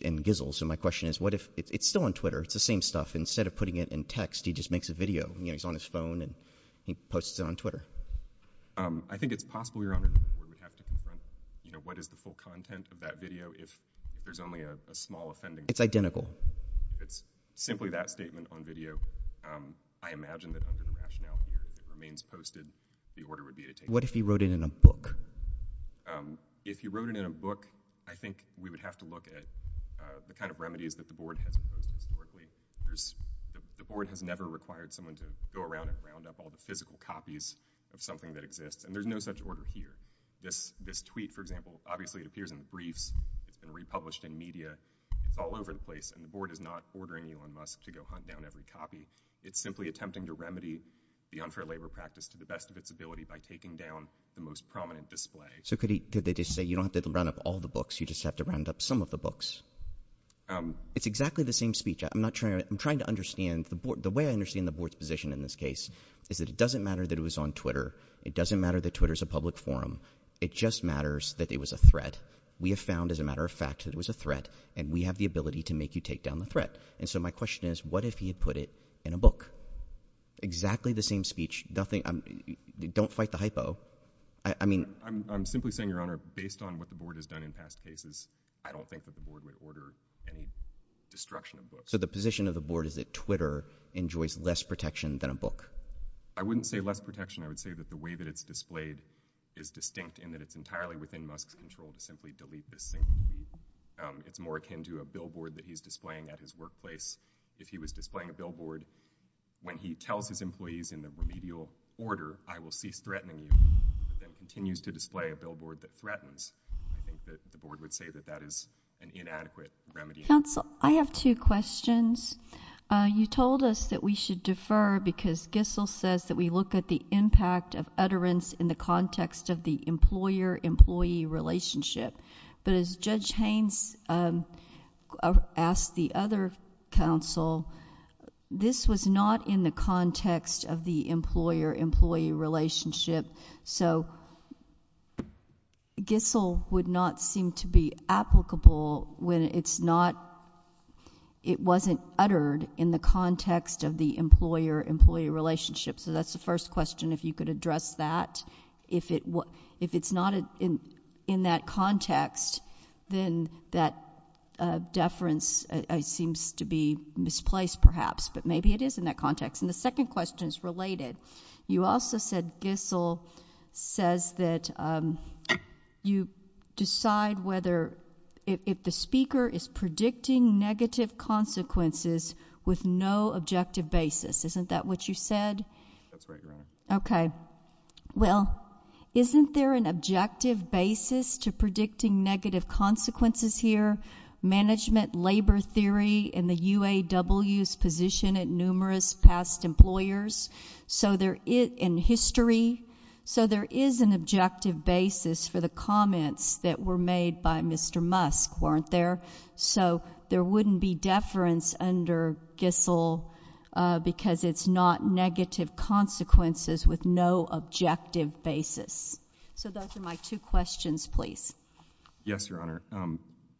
in gizzle. So my question is, what if—it's still on Twitter. It's the same stuff. Instead of putting it in text, he just makes a video. He's on his phone and he posts it on Twitter. I think it's possible, Your Honor, that the board would have to confront what is the full content of that video if there's only a small offending. It's identical. It's simply that statement on video. I imagine that under the rationale here, if it remains posted, the order would be to take— What if he wrote it in a book? If he wrote it in a book, I think we would have to look at the kind of remedies that the board has imposed historically. The board has never required someone to go around and round up all the physical copies of something that exists. And there's no such order here. This tweet, for example, obviously it appears in the briefs. It's been republished in media. It's all over the place. And the board is not ordering Elon Musk to go hunt down every copy. It's simply attempting to remedy the unfair labor practice to the best of its ability by taking down the most prominent display. So could they just say, you don't have to round up all the books, you just have to round up some of the books? It's exactly the same speech. I'm trying to understand. The way I understand the board's position in this case is that it doesn't matter that it was on Twitter. It doesn't matter that Twitter is a public forum. It just matters that it was a threat. We have found, as a matter of fact, that it was a threat. And we have the ability to make you take down the threat. And so my question is, what if he had put it in a book? Exactly the same speech. Don't fight the hypo. I'm simply saying, Your Honor, based on what the board has done in past cases, I don't think that the board would order any destruction of books. So the position of the board is that Twitter enjoys less protection than a book? I wouldn't say less protection. I would say that the way that it's displayed is distinct in that it's entirely within Musk's control to simply delete this thing. It's more akin to a billboard that he's displaying at his workplace. If he was displaying a billboard, when he tells his employees in the remedial order, I will cease threatening you, but then continues to display a billboard that threatens, I think that the board would say that that is an inadequate remedy. Counsel, I have two questions. You told us that we should defer because Gissel says that we look at the impact of utterance in the context of the employer-employee relationship. But as Judge Gissel would not seem to be applicable when it wasn't uttered in the context of the employer-employee relationship. So that's the first question, if you could address that. If it's not in that context, then that deference seems to be misplaced perhaps, but maybe it is in that context. And the second question is related. You also said Gissel says that you decide if the speaker is predicting negative consequences with no objective basis. Isn't that what you said? That's right, Your Honor. Okay. Well, isn't there an objective basis to predicting negative consequences here? Management labor theory in the UAW's position at numerous past employers, so there is an objective basis for the comments that were made by Mr. Musk, weren't there? So there wouldn't be deference under Gissel because it's not negative consequences with no objective basis. So those are my two questions, please. Yes, Your Honor.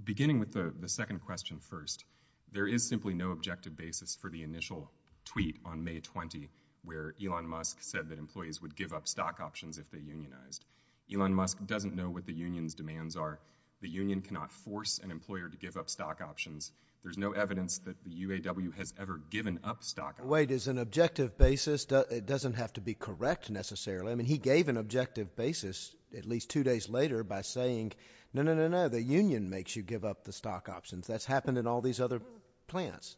Beginning with the second question first, there is simply no objective basis for the initial tweet on May 20 where Elon Musk said that employees would give up stock options if they unionized. Elon Musk doesn't know what the union's demands are. The union cannot force an employer to give up stock options. There's no evidence that the UAW has ever given up stock options. Wait, is an objective basis, it doesn't have to be correct necessarily. I mean, he gave an objective basis at least two days later by saying, no, no, no, no, the union makes you give up the stock options. That's happened in all these other plants.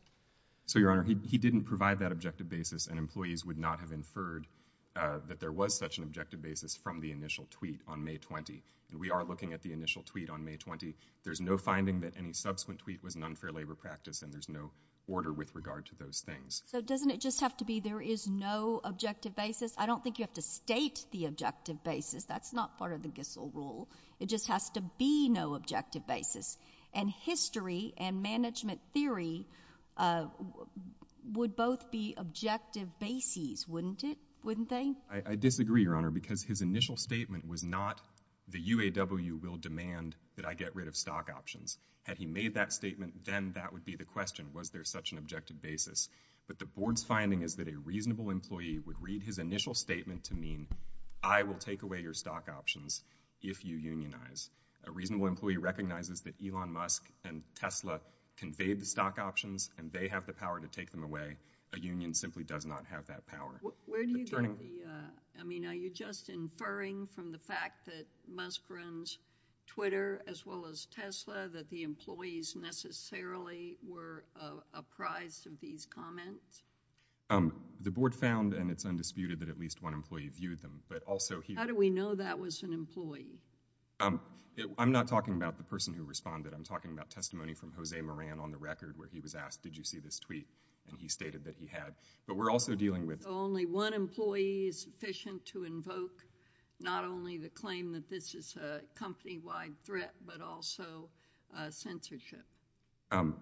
So, Your Honor, he didn't provide that objective basis and employees would not have inferred that there was such an objective basis from the initial tweet on May 20. And we are looking at the initial tweet on May 20. There's no finding that any subsequent tweet was an unfair labor practice and there's no order with regard to those things. So doesn't it just have to be there is no objective basis? I don't think you have to objective basis. That's not part of the Gissel rule. It just has to be no objective basis. And history and management theory would both be objective bases, wouldn't it? Wouldn't they? I disagree, Your Honor, because his initial statement was not the UAW will demand that I get rid of stock options. Had he made that statement, then that would be the question. Was there such an objective basis? But the board's finding is that a reasonable employee would read his initial statement to mean I will take away your stock options if you unionize. A reasonable employee recognizes that Elon Musk and Tesla conveyed the stock options and they have the power to take them away. A union simply does not have that power. Where do you get the, I mean, are you just inferring from the fact that Musk runs Twitter as well as Tesla that the employees necessarily were apprised of these comments? The board found, and it's undisputed, that at least one employee viewed them. But also, how do we know that was an employee? I'm not talking about the person who responded. I'm talking about testimony from Jose Moran on the record where he was asked, did you see this tweet? And he stated that he had. But we're also dealing with only one employee is sufficient to invoke not only the claim that this is a company wide threat, but also censorship.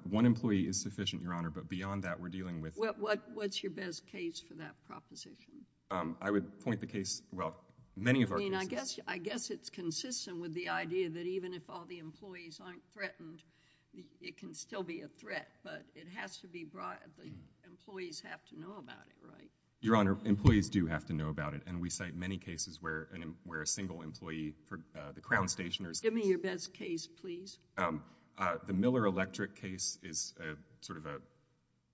One employee is sufficient, Your Honor. But beyond that, we're dealing with What's your best case for that proposition? I would point the case, well, many of our cases I guess it's consistent with the idea that even if all the employees aren't threatened, it can still be a threat. But it has to be brought, the employees have to know about it, right? Your Honor, employees do have to know about it. And we cite many cases where a single employee, the Crown Stationers Give me your best case, please. The Miller Electric case is sort of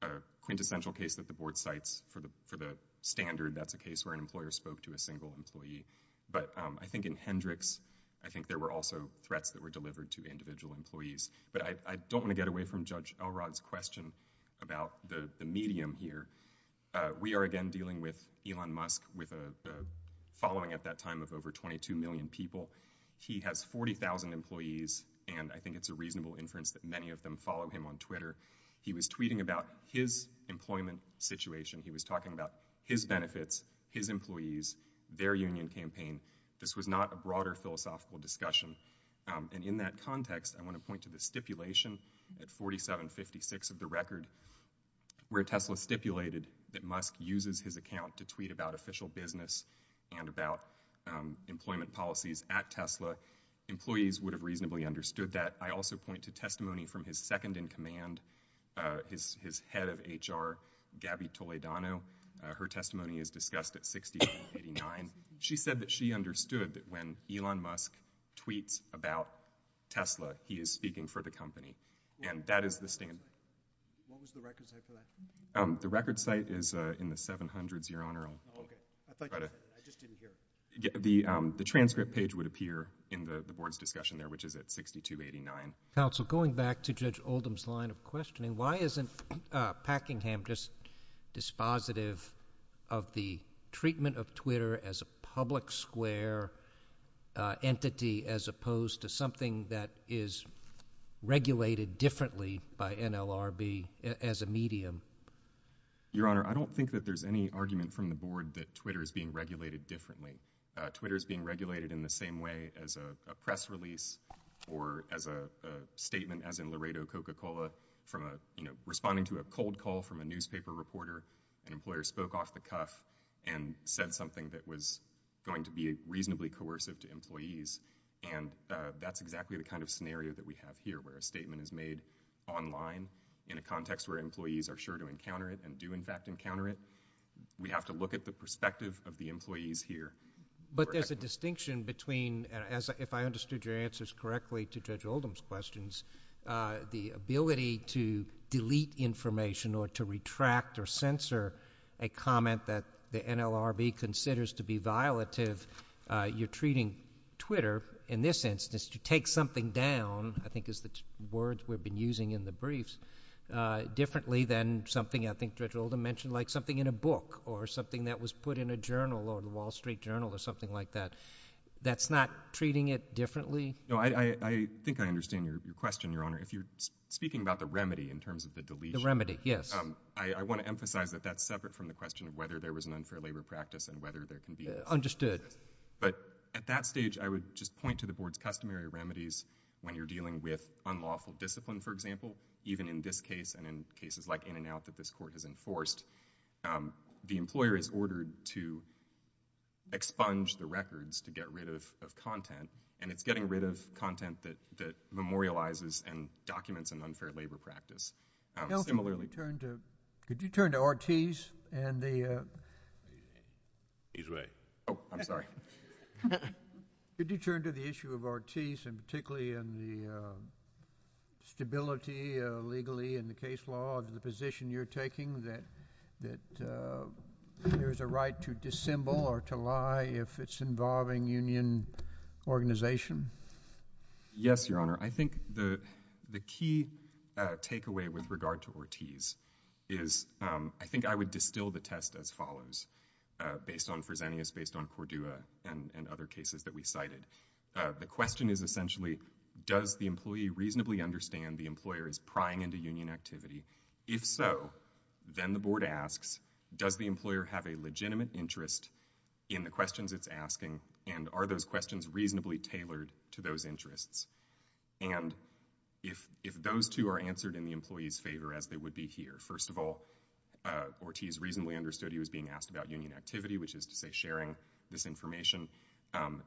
a quintessential case that the Board cites for the standard, that's a case where an employer spoke to a single employee. But I think in Hendricks, I think there were also threats that were delivered to individual employees. But I don't want to get away from Judge Elrod's question about the medium here. We are again dealing with Elon Musk with a following at that time of over 22 million people. He has 40,000 employees. And I think it's a reasonable inference that many of them follow him on Twitter. He was tweeting about his employment situation. He was talking about his benefits, his employees, their union campaign. This was not a broader philosophical discussion. And in that context, I want to point to the stipulation at 4756 of the record, where Tesla stipulated that Musk uses his account to tweet about official business and about employment policies at Tesla. Employees would have reasonably understood that. I also point to testimony from his second in command, his head of HR, Gabby Toledano. Her testimony is discussed at 6089. She said that she understood that when Elon Musk tweets about Tesla, he is speaking for the company. And that is the standard. What was the record site for that? The record site is in the 700s, Your Honor. The transcript page would appear in the board's discussion there, which is at 6289. Counsel, going back to Judge Oldham's line of questioning, why isn't Packingham just dispositive of the treatment of Twitter as a public square entity as opposed to something that is regulated differently by NLRB as a medium? Your Honor, I don't think that there's any argument from the board that Twitter is being regulated differently. Twitter is being regulated in the same way as a press release or as a statement as in Laredo Coca-Cola from a, you know, responding to a cold call from a newspaper reporter. An employer spoke off the cuff and said something that was going to be reasonably coercive to employees. And that's exactly the kind of scenario that we have here, where a statement is made online in a context where employees are sure to encounter it and do, in fact, encounter it. We have to look at the perspective of the employees here. But there's a distinction between, if I understood your answers correctly to Judge Oldham's questions, the ability to delete information or to retract or censor a comment that the NLRB considers to be violative. You're treating Twitter, in this instance, to take something down, I think is the word we've been using in the briefs, differently than something I think Judge Oldham mentioned, like something in a book or something that was put in a journal or the Wall Street Journal or something like that. That's not treating it differently? No, I think I understand your question, Your Honor. If you're speaking about the remedy in terms of the deletion— The remedy, yes. I want to emphasize that that's separate from the question of whether there was an unfair labor practice and whether there can be— Understood. But at that stage, I would just point to the board's customary remedies when you're dealing with unlawful discipline, for example, even in this case and in cases like In-N-Out that this Court has enforced. The employer is ordered to expunge the records to get rid of content, and it's getting rid of content that memorializes and documents an unfair labor practice. Similarly— Could you turn to Ortiz and the— He's right. Oh, I'm sorry. Could you turn to the issue of Ortiz and particularly in the stability legally in the case law of the position you're taking that there's a right to dissemble or to lie if it's involving union organization? Yes, Your Honor. I think the key takeaway with regard to Ortiz is I think I would distill the test as follows based on Fresenius, based on Cordua, and other cases that we cited. The question is essentially, does the employee reasonably understand the employer is prying into union activity? If so, then the board asks, does the employer have a legitimate interest in the questions it's asking, and are those questions reasonably tailored to those interests? And if those two are answered in the employee's favor as they would be here, first of all, Ortiz reasonably understood he was being asked about union activity, which is to say sharing this information,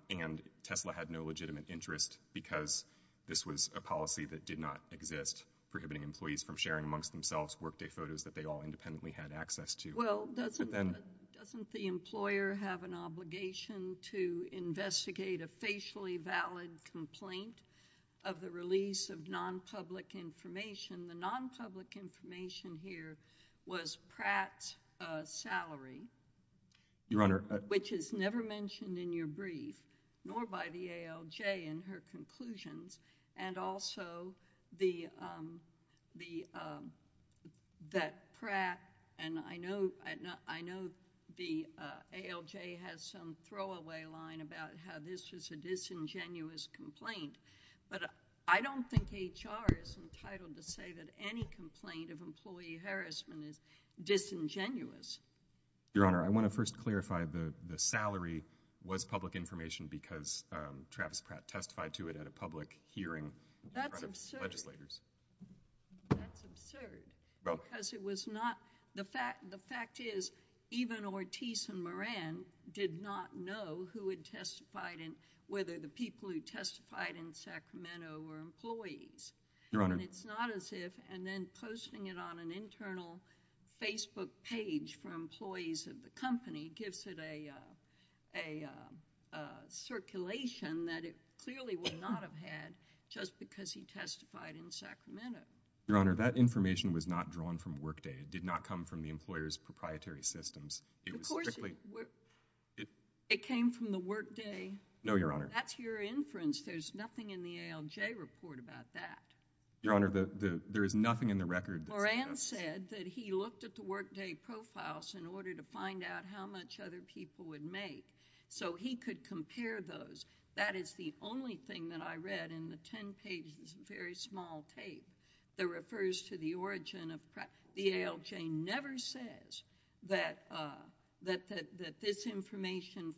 and Tesla had no legitimate interest because this was a policy that did not exist prohibiting employees from sharing amongst themselves workday photos that they all independently had access to. Well, doesn't the employer have an obligation to investigate a facially valid complaint of the release of non-public information? The non-public information here was Pratt's salary, which is never mentioned in your brief, nor by the ALJ in her conclusions, and also that Pratt, and I know the ALJ has some throwaway line about how this was a disingenuous complaint, but I don't think HR is entitled to say that any complaint of employee harassment is disingenuous. Your Honor, I want to first clarify the salary was public information because Travis Pratt testified to it at a public hearing in front of legislators. That's absurd. That's absurd because it was not, the fact is even Ortiz and Moran did not know who had testified and whether the people who testified in Sacramento were employees. Your Honor. It's not as if, and then posting it on an internal Facebook page for employees of the company gives it a circulation that it clearly would not have had just because he testified in Sacramento. Your Honor, that information was not drawn from workday. It did not come from the employer's proprietary systems. Of course, it came from the workday. No, Your Honor. That's your inference. There's nothing in the ALJ report about that. Your Honor, there is nothing in the record. Moran said that he looked at the workday profiles in order to find out how much other people would make so he could compare those. That is the only thing that I read in the 10 pages of very small tape that refers to the origin of Pratt. The ALJ never says that this information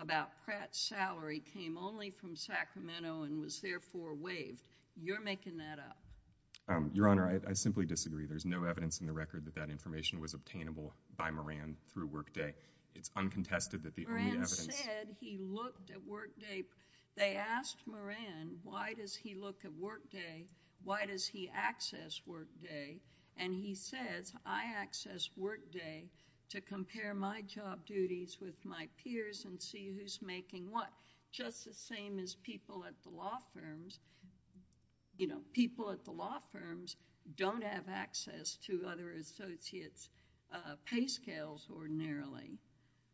about Pratt's salary came only from Sacramento and was therefore waived. You're making that up. Your Honor, I simply disagree. There's no evidence in the record that that information was obtainable by Moran through workday. It's uncontested that the only evidence... Moran said he looked at workday. They asked Moran, why does he look at workday? Why does he access workday? And he says, I access workday to compare my job duties with my peers and see who's making what. Just the same as people at the law firms. You know, people at the law firms don't have access to other associates' pay scales ordinarily.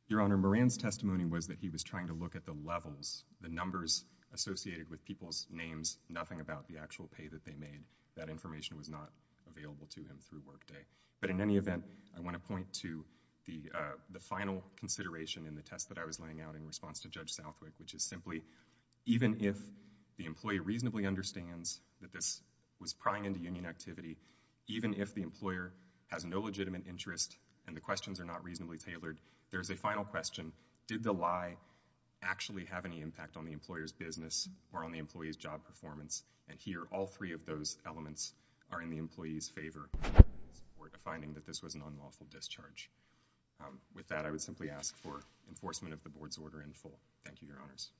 Your Honor, Moran's testimony was that he was trying to look at the levels, the numbers associated with people's names, nothing about the actual pay that they made. That information was not available to him through workday. But in any event, I want to point to the final consideration in the test that I was laying out in response to Judge Southwick, which is simply, even if the employee reasonably understands that this was prying into union activity, even if the employer has no legitimate interest and the questions are not reasonably tailored, there's a final question. Did the lie actually have any impact on the employer's business or on the employee's job performance? And here, all three of those elements are in the employee's favor for the finding that this was an unlawful discharge. With that, I would simply ask for enforcement of the Board's order in full. Thank you, Your Honors.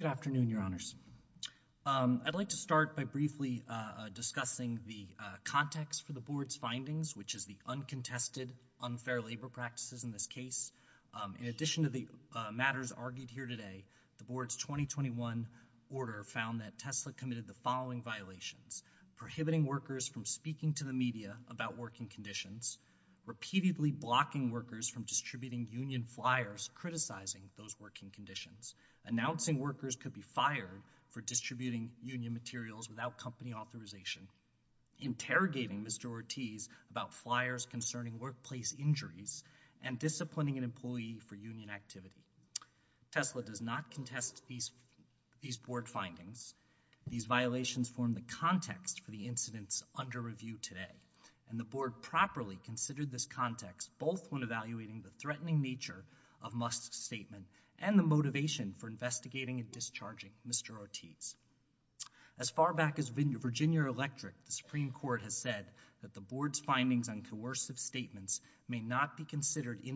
Good afternoon, Your Honors. I'd like to start by briefly discussing the context for the Board's findings, which is the uncontested unfair labor practices in this case. In addition to the matters argued here today, the Board's 2021 order found that Tesla committed the following violations. Prohibiting workers from speaking to the media about working conditions. Repeatedly blocking workers from distributing union flyers criticizing those working conditions. Announcing workers could be fired for distributing union materials without company authorization. Interrogating Mr. Ortiz about flyers concerning workplace injuries. And disciplining an employee for union activity. Tesla does not contest these Board findings. These violations form the context for the incidents under review today. And the Board properly considered this context, both when evaluating the threatening nature of Must's statement and the motivation for investigating and discharging Mr. Ortiz. As far back as Virginia Electric, the Supreme Court has said that the Board's findings on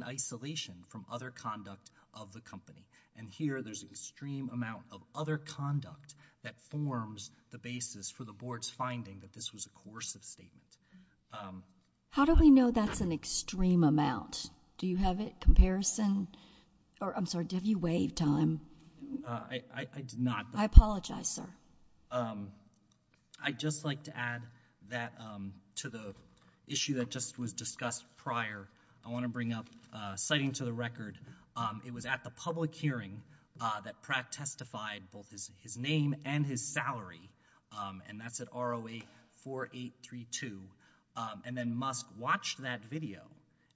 isolation from other conduct of the company. And here, there's an extreme amount of other conduct that forms the basis for the Board's finding that this was a coercive statement. How do we know that's an extreme amount? Do you have a comparison? Or, I'm sorry, did you waive time? I did not. I apologize, sir. I'd just like to add that to the issue that just was discussed prior. I want to bring up citing to the record. It was at the public hearing that Pratt testified both his name and his salary. And that's at ROA 4832. And then Must watched that video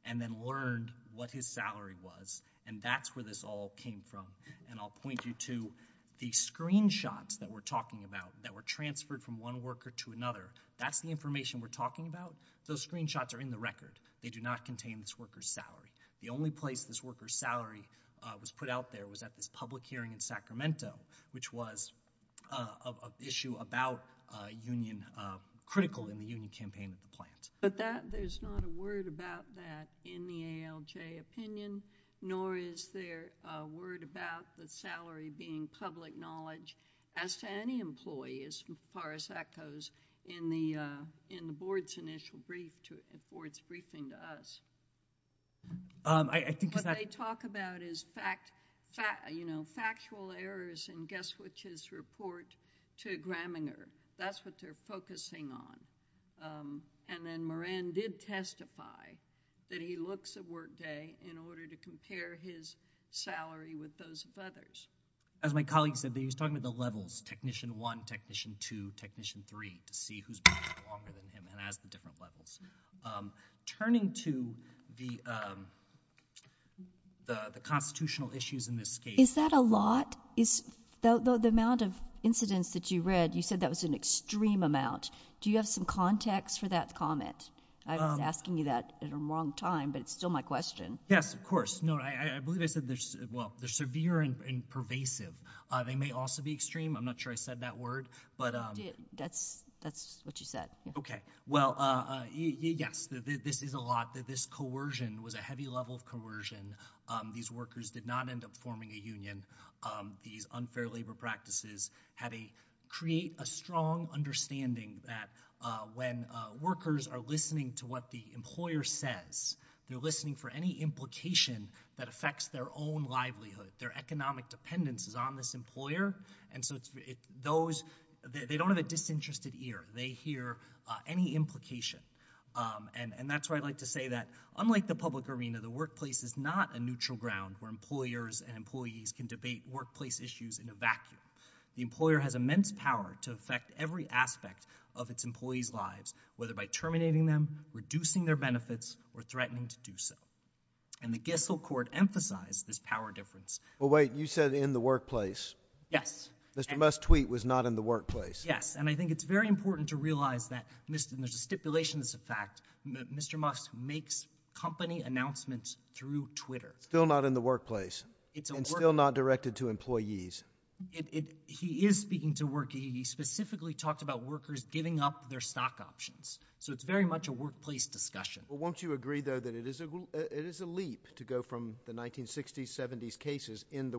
and then learned what his salary was. And that's where this all came from. And I'll point you to the screenshots that we're talking about that were transferred from one worker to another. Those screenshots are in the record. They do not contain this worker's salary. The only place this worker's salary was put out there was at this public hearing in Sacramento, which was an issue about union, critical in the union campaign of the plant. But that, there's not a word about that in the ALJ opinion, nor is there a word about the salary being public knowledge as to any employee, as far as that goes, in the Board's initial briefing to us. I think what they talk about is fact, you know, factual errors and guess which is report to Graminger. That's what they're focusing on. And then Moran did testify that he looks at workday in order to compare his salary with those of others. As my colleague said, he was talking about the levels, Technician 1, Technician 2, Technician 3 to see who's been there longer than him and has the different levels. Turning to the constitutional issues in this case. Is that a lot? Is the amount of incidents that you read, you said that was an extreme amount. Do you have some context for that comment? I was asking you that at a wrong time, but it's still my question. Yes, of course. No, I believe I said, well, they're severe and pervasive. They may also be extreme. I'm not sure I said that word. That's what you said. Okay. Well, yes, this is a lot. This coercion was a heavy level of coercion. These workers did not end up forming a union. These unfair labor practices create a strong understanding that when workers are listening to what the employer says, they're listening for any implication that affects their own livelihood. Their economic dependence is on this employer. And so those, they don't have a disinterested ear. They hear any implication. And that's why I'd like to say that unlike the public arena, the workplace is not a neutral ground where employers and employees can debate workplace issues in a vacuum. The employer has immense power to affect every aspect of its employees' lives, whether by terminating them, reducing their benefits, or threatening to do so. And the Gissel court emphasized this power difference. Well, wait, you said in the workplace. Yes. Mr. Musk's tweet was not in the workplace. Yes. And I think it's very important to realize that, and there's a stipulation that's a fact, Mr. Musk makes company announcements through Twitter. Still not in the workplace. It's a workplace. And still not directed to employees. He is speaking to work. He specifically talked about workers giving up their stock options. So it's very much a workplace discussion. Well, won't you agree, though, that it is a leap to go from the 1960s, 70s cases in the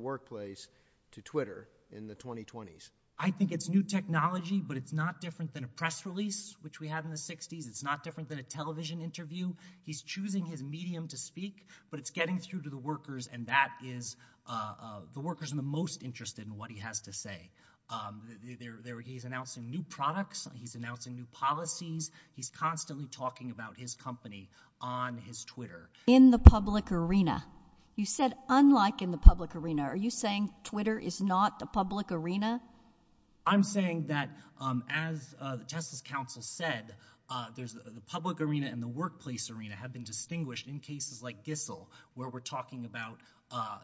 Twitter in the 2020s? I think it's new technology, but it's not different than a press release, which we had in the 60s. It's not different than a television interview. He's choosing his medium to speak, but it's getting through to the workers, and that is the workers are the most interested in what he has to say. He's announcing new products. He's announcing new policies. He's constantly talking about his company on his Twitter. In the public arena, you said unlike in the public arena. Are you saying Twitter is not a public arena? I'm saying that as the Justice Council said, the public arena and the workplace arena have been distinguished in cases like Gissel, where we're talking about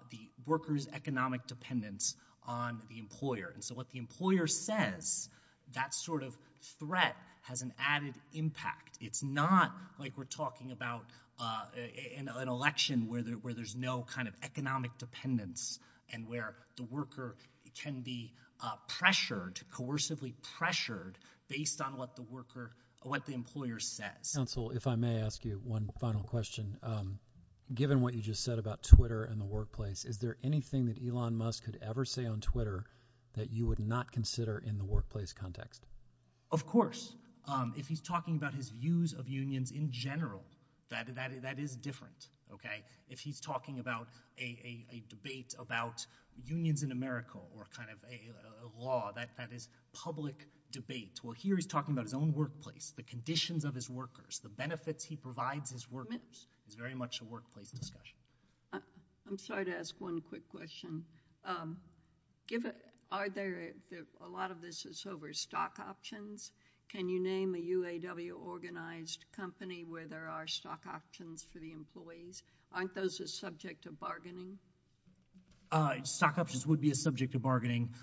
the workers' economic dependence on the employer. And so what the employer says, that sort of threat has an added impact. It's not like we're talking about an election where there's no kind of economic dependence and where the worker can be pressured, coercively pressured, based on what the employer says. Counsel, if I may ask you one final question. Given what you just said about Twitter and the workplace, is there anything that Elon Musk could ever say on Twitter that you would not consider in the workplace context? Of course. If he's talking about his views of unions in general, that is different. If he's talking about a debate about unions in America or a law, that is public debate. Well, here he's talking about his own workplace, the conditions of his workers, the benefits he provides his workers. It's very much a workplace discussion. I'm sorry to ask one quick question. A lot of this is over stock options. Can you name a UAW-organized company where there are stock options for the employees? Aren't those a subject of bargaining? Stock options would be a subject of bargaining.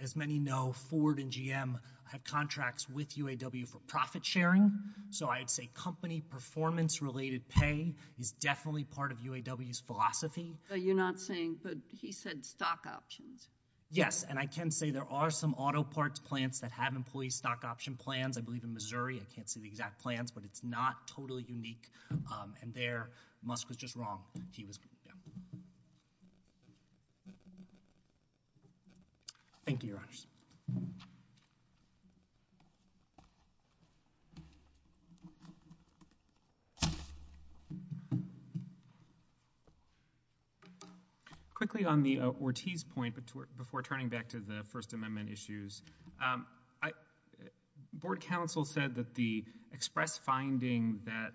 As many know, Ford and GM had contracts with UAW for profit sharing. So I'd say company performance-related pay is definitely part of UAW's philosophy. You're not saying—but he said stock options. Yes, and I can say there are some auto parts plants that have employee stock option plans. I believe in Missouri. I can't see the exact plans, but it's not totally unique. And there, Musk was just wrong. Thank you, Your Honors. Thank you. Quickly, on the Ortiz point, before turning back to the First Amendment issues, Board counsel said that the express finding that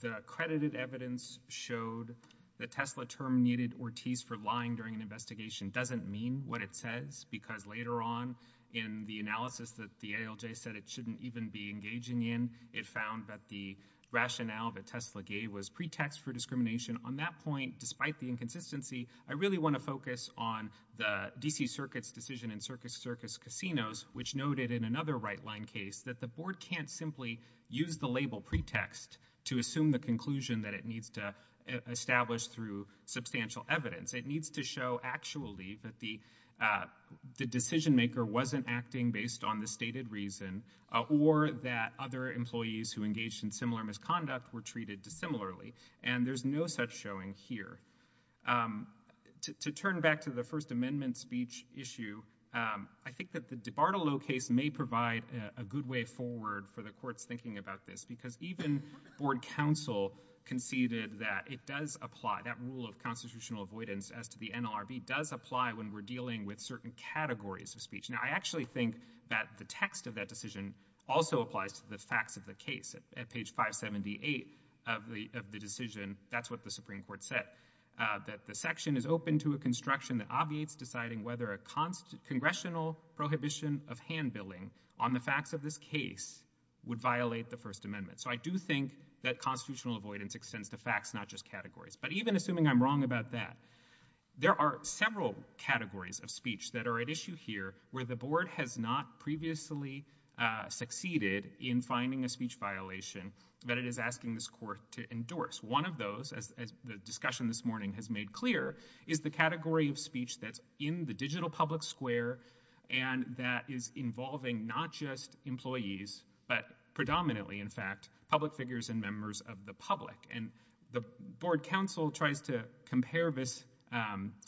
the accredited evidence showed that Tesla terminated Ortiz for lying during an investigation doesn't mean what it says, because later in the analysis that the ALJ said it shouldn't even be engaging in, it found that the rationale that Tesla gave was pretext for discrimination. On that point, despite the inconsistency, I really want to focus on the D.C. Circuit's decision in Circus Circus Casinos, which noted in another right-line case that the Board can't simply use the label pretext to assume the conclusion that it needs to establish through substantial evidence. It needs to show actually that the decision-maker wasn't acting based on the stated reason, or that other employees who engaged in similar misconduct were treated dissimilarly. And there's no such showing here. To turn back to the First Amendment speech issue, I think that the DiBartolo case may provide a good way forward for the courts thinking about this, because even Board counsel conceded that it does apply, that rule of constitutional avoidance as to the NLRB does apply when we're dealing with certain categories of speech. Now, I actually think that the text of that decision also applies to the facts of the case. At page 578 of the decision, that's what the Supreme Court said, that the section is open to a construction that obviates deciding whether a congressional prohibition of hand billing on the facts of this case would violate the First Amendment. So I do think that constitutional avoidance extends to facts, not just categories. But even assuming I'm wrong about that, there are several categories of speech that are at issue here where the Board has not previously succeeded in finding a speech violation that it is asking this Court to endorse. One of those, as the discussion this morning has made clear, is the category of speech that's in the digital public square and that is involving not just employees, but predominantly, in fact, public figures and members of the public. And the Board counsel tries to compare this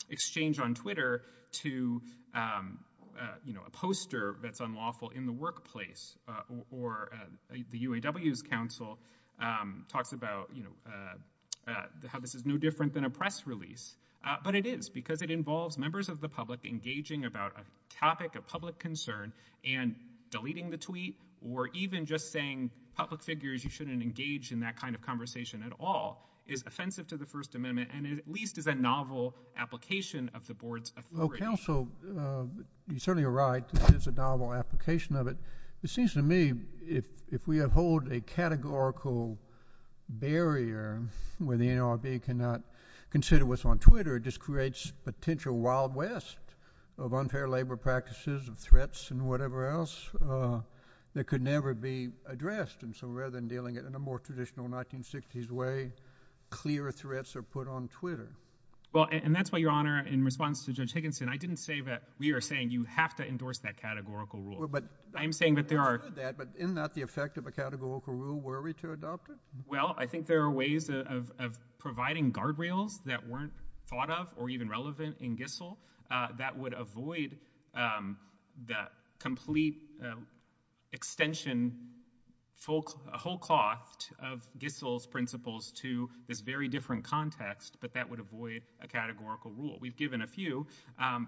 exchange on Twitter to, you know, a poster that's unlawful in the workplace, or the UAW's counsel talks about, you know, how this is no different than a press release. But it is because it involves members of the public engaging about a topic of public concern and deleting the tweet, or even just saying, public figures, you shouldn't engage in that kind of conversation at all, is offensive to the First Amendment and at least is a novel application of the Board's authority. Oh, counsel, you're certainly right. This is a novel application of it. It seems to me if we uphold a categorical barrier where the NLRB cannot consider what's on Twitter, it just creates potential wild west of unfair labor practices, of threats, and whatever else that could never be addressed. And so, rather than dealing it in a more traditional 1960s way, clear threats are put on Twitter. Well, and that's why, Your Honor, in response to Judge Higginson, I didn't say that we are saying you have to endorse that categorical rule. But I'm saying that there are. But isn't that the effect of a categorical rule? Were we to adopt it? Well, I think there are ways of providing guardrails that weren't thought of or even relevant in Gissel that would avoid the complete extension, a whole cloth of Gissel's principles to this very different context, but that would avoid a categorical rule. We've given a few,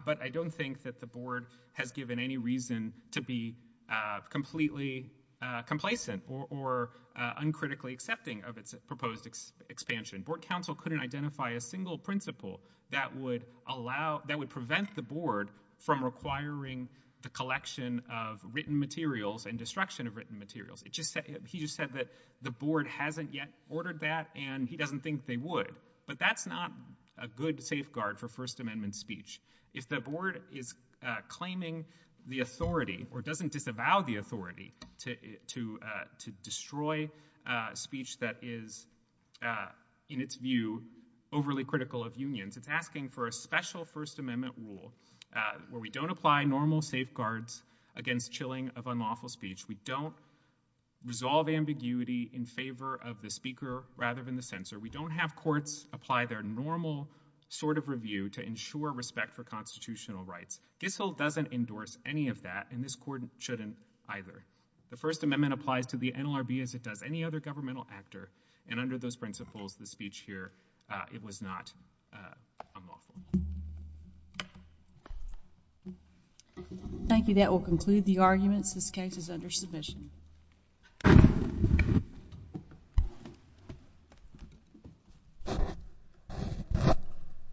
but I don't think that the Board has given any reason to be completely complacent or uncritically accepting of its proposed expansion. Board counsel couldn't identify a single principle that would prevent the Board from requiring the collection of written materials and destruction of written materials. He just said that the Board hasn't yet ordered that, and he doesn't think they would. But that's not a good safeguard for First Amendment speech. If the Board is claiming the authority or doesn't disavow the authority to destroy speech that is, in its view, overly critical of unions, it's asking for a special First Amendment rule where we don't apply normal safeguards against chilling of unlawful speech. We don't resolve ambiguity in favor of the speaker rather than the censor. We don't have courts apply their normal sort of review to ensure respect for constitutional rights. Gissel doesn't endorse any of that, and this Court shouldn't either. The First Amendment applies to the NLRB as it does any other governmental actor, and under those principles, the speech here, it was not unlawful. Thank you. That will conclude the arguments. This case is under submission.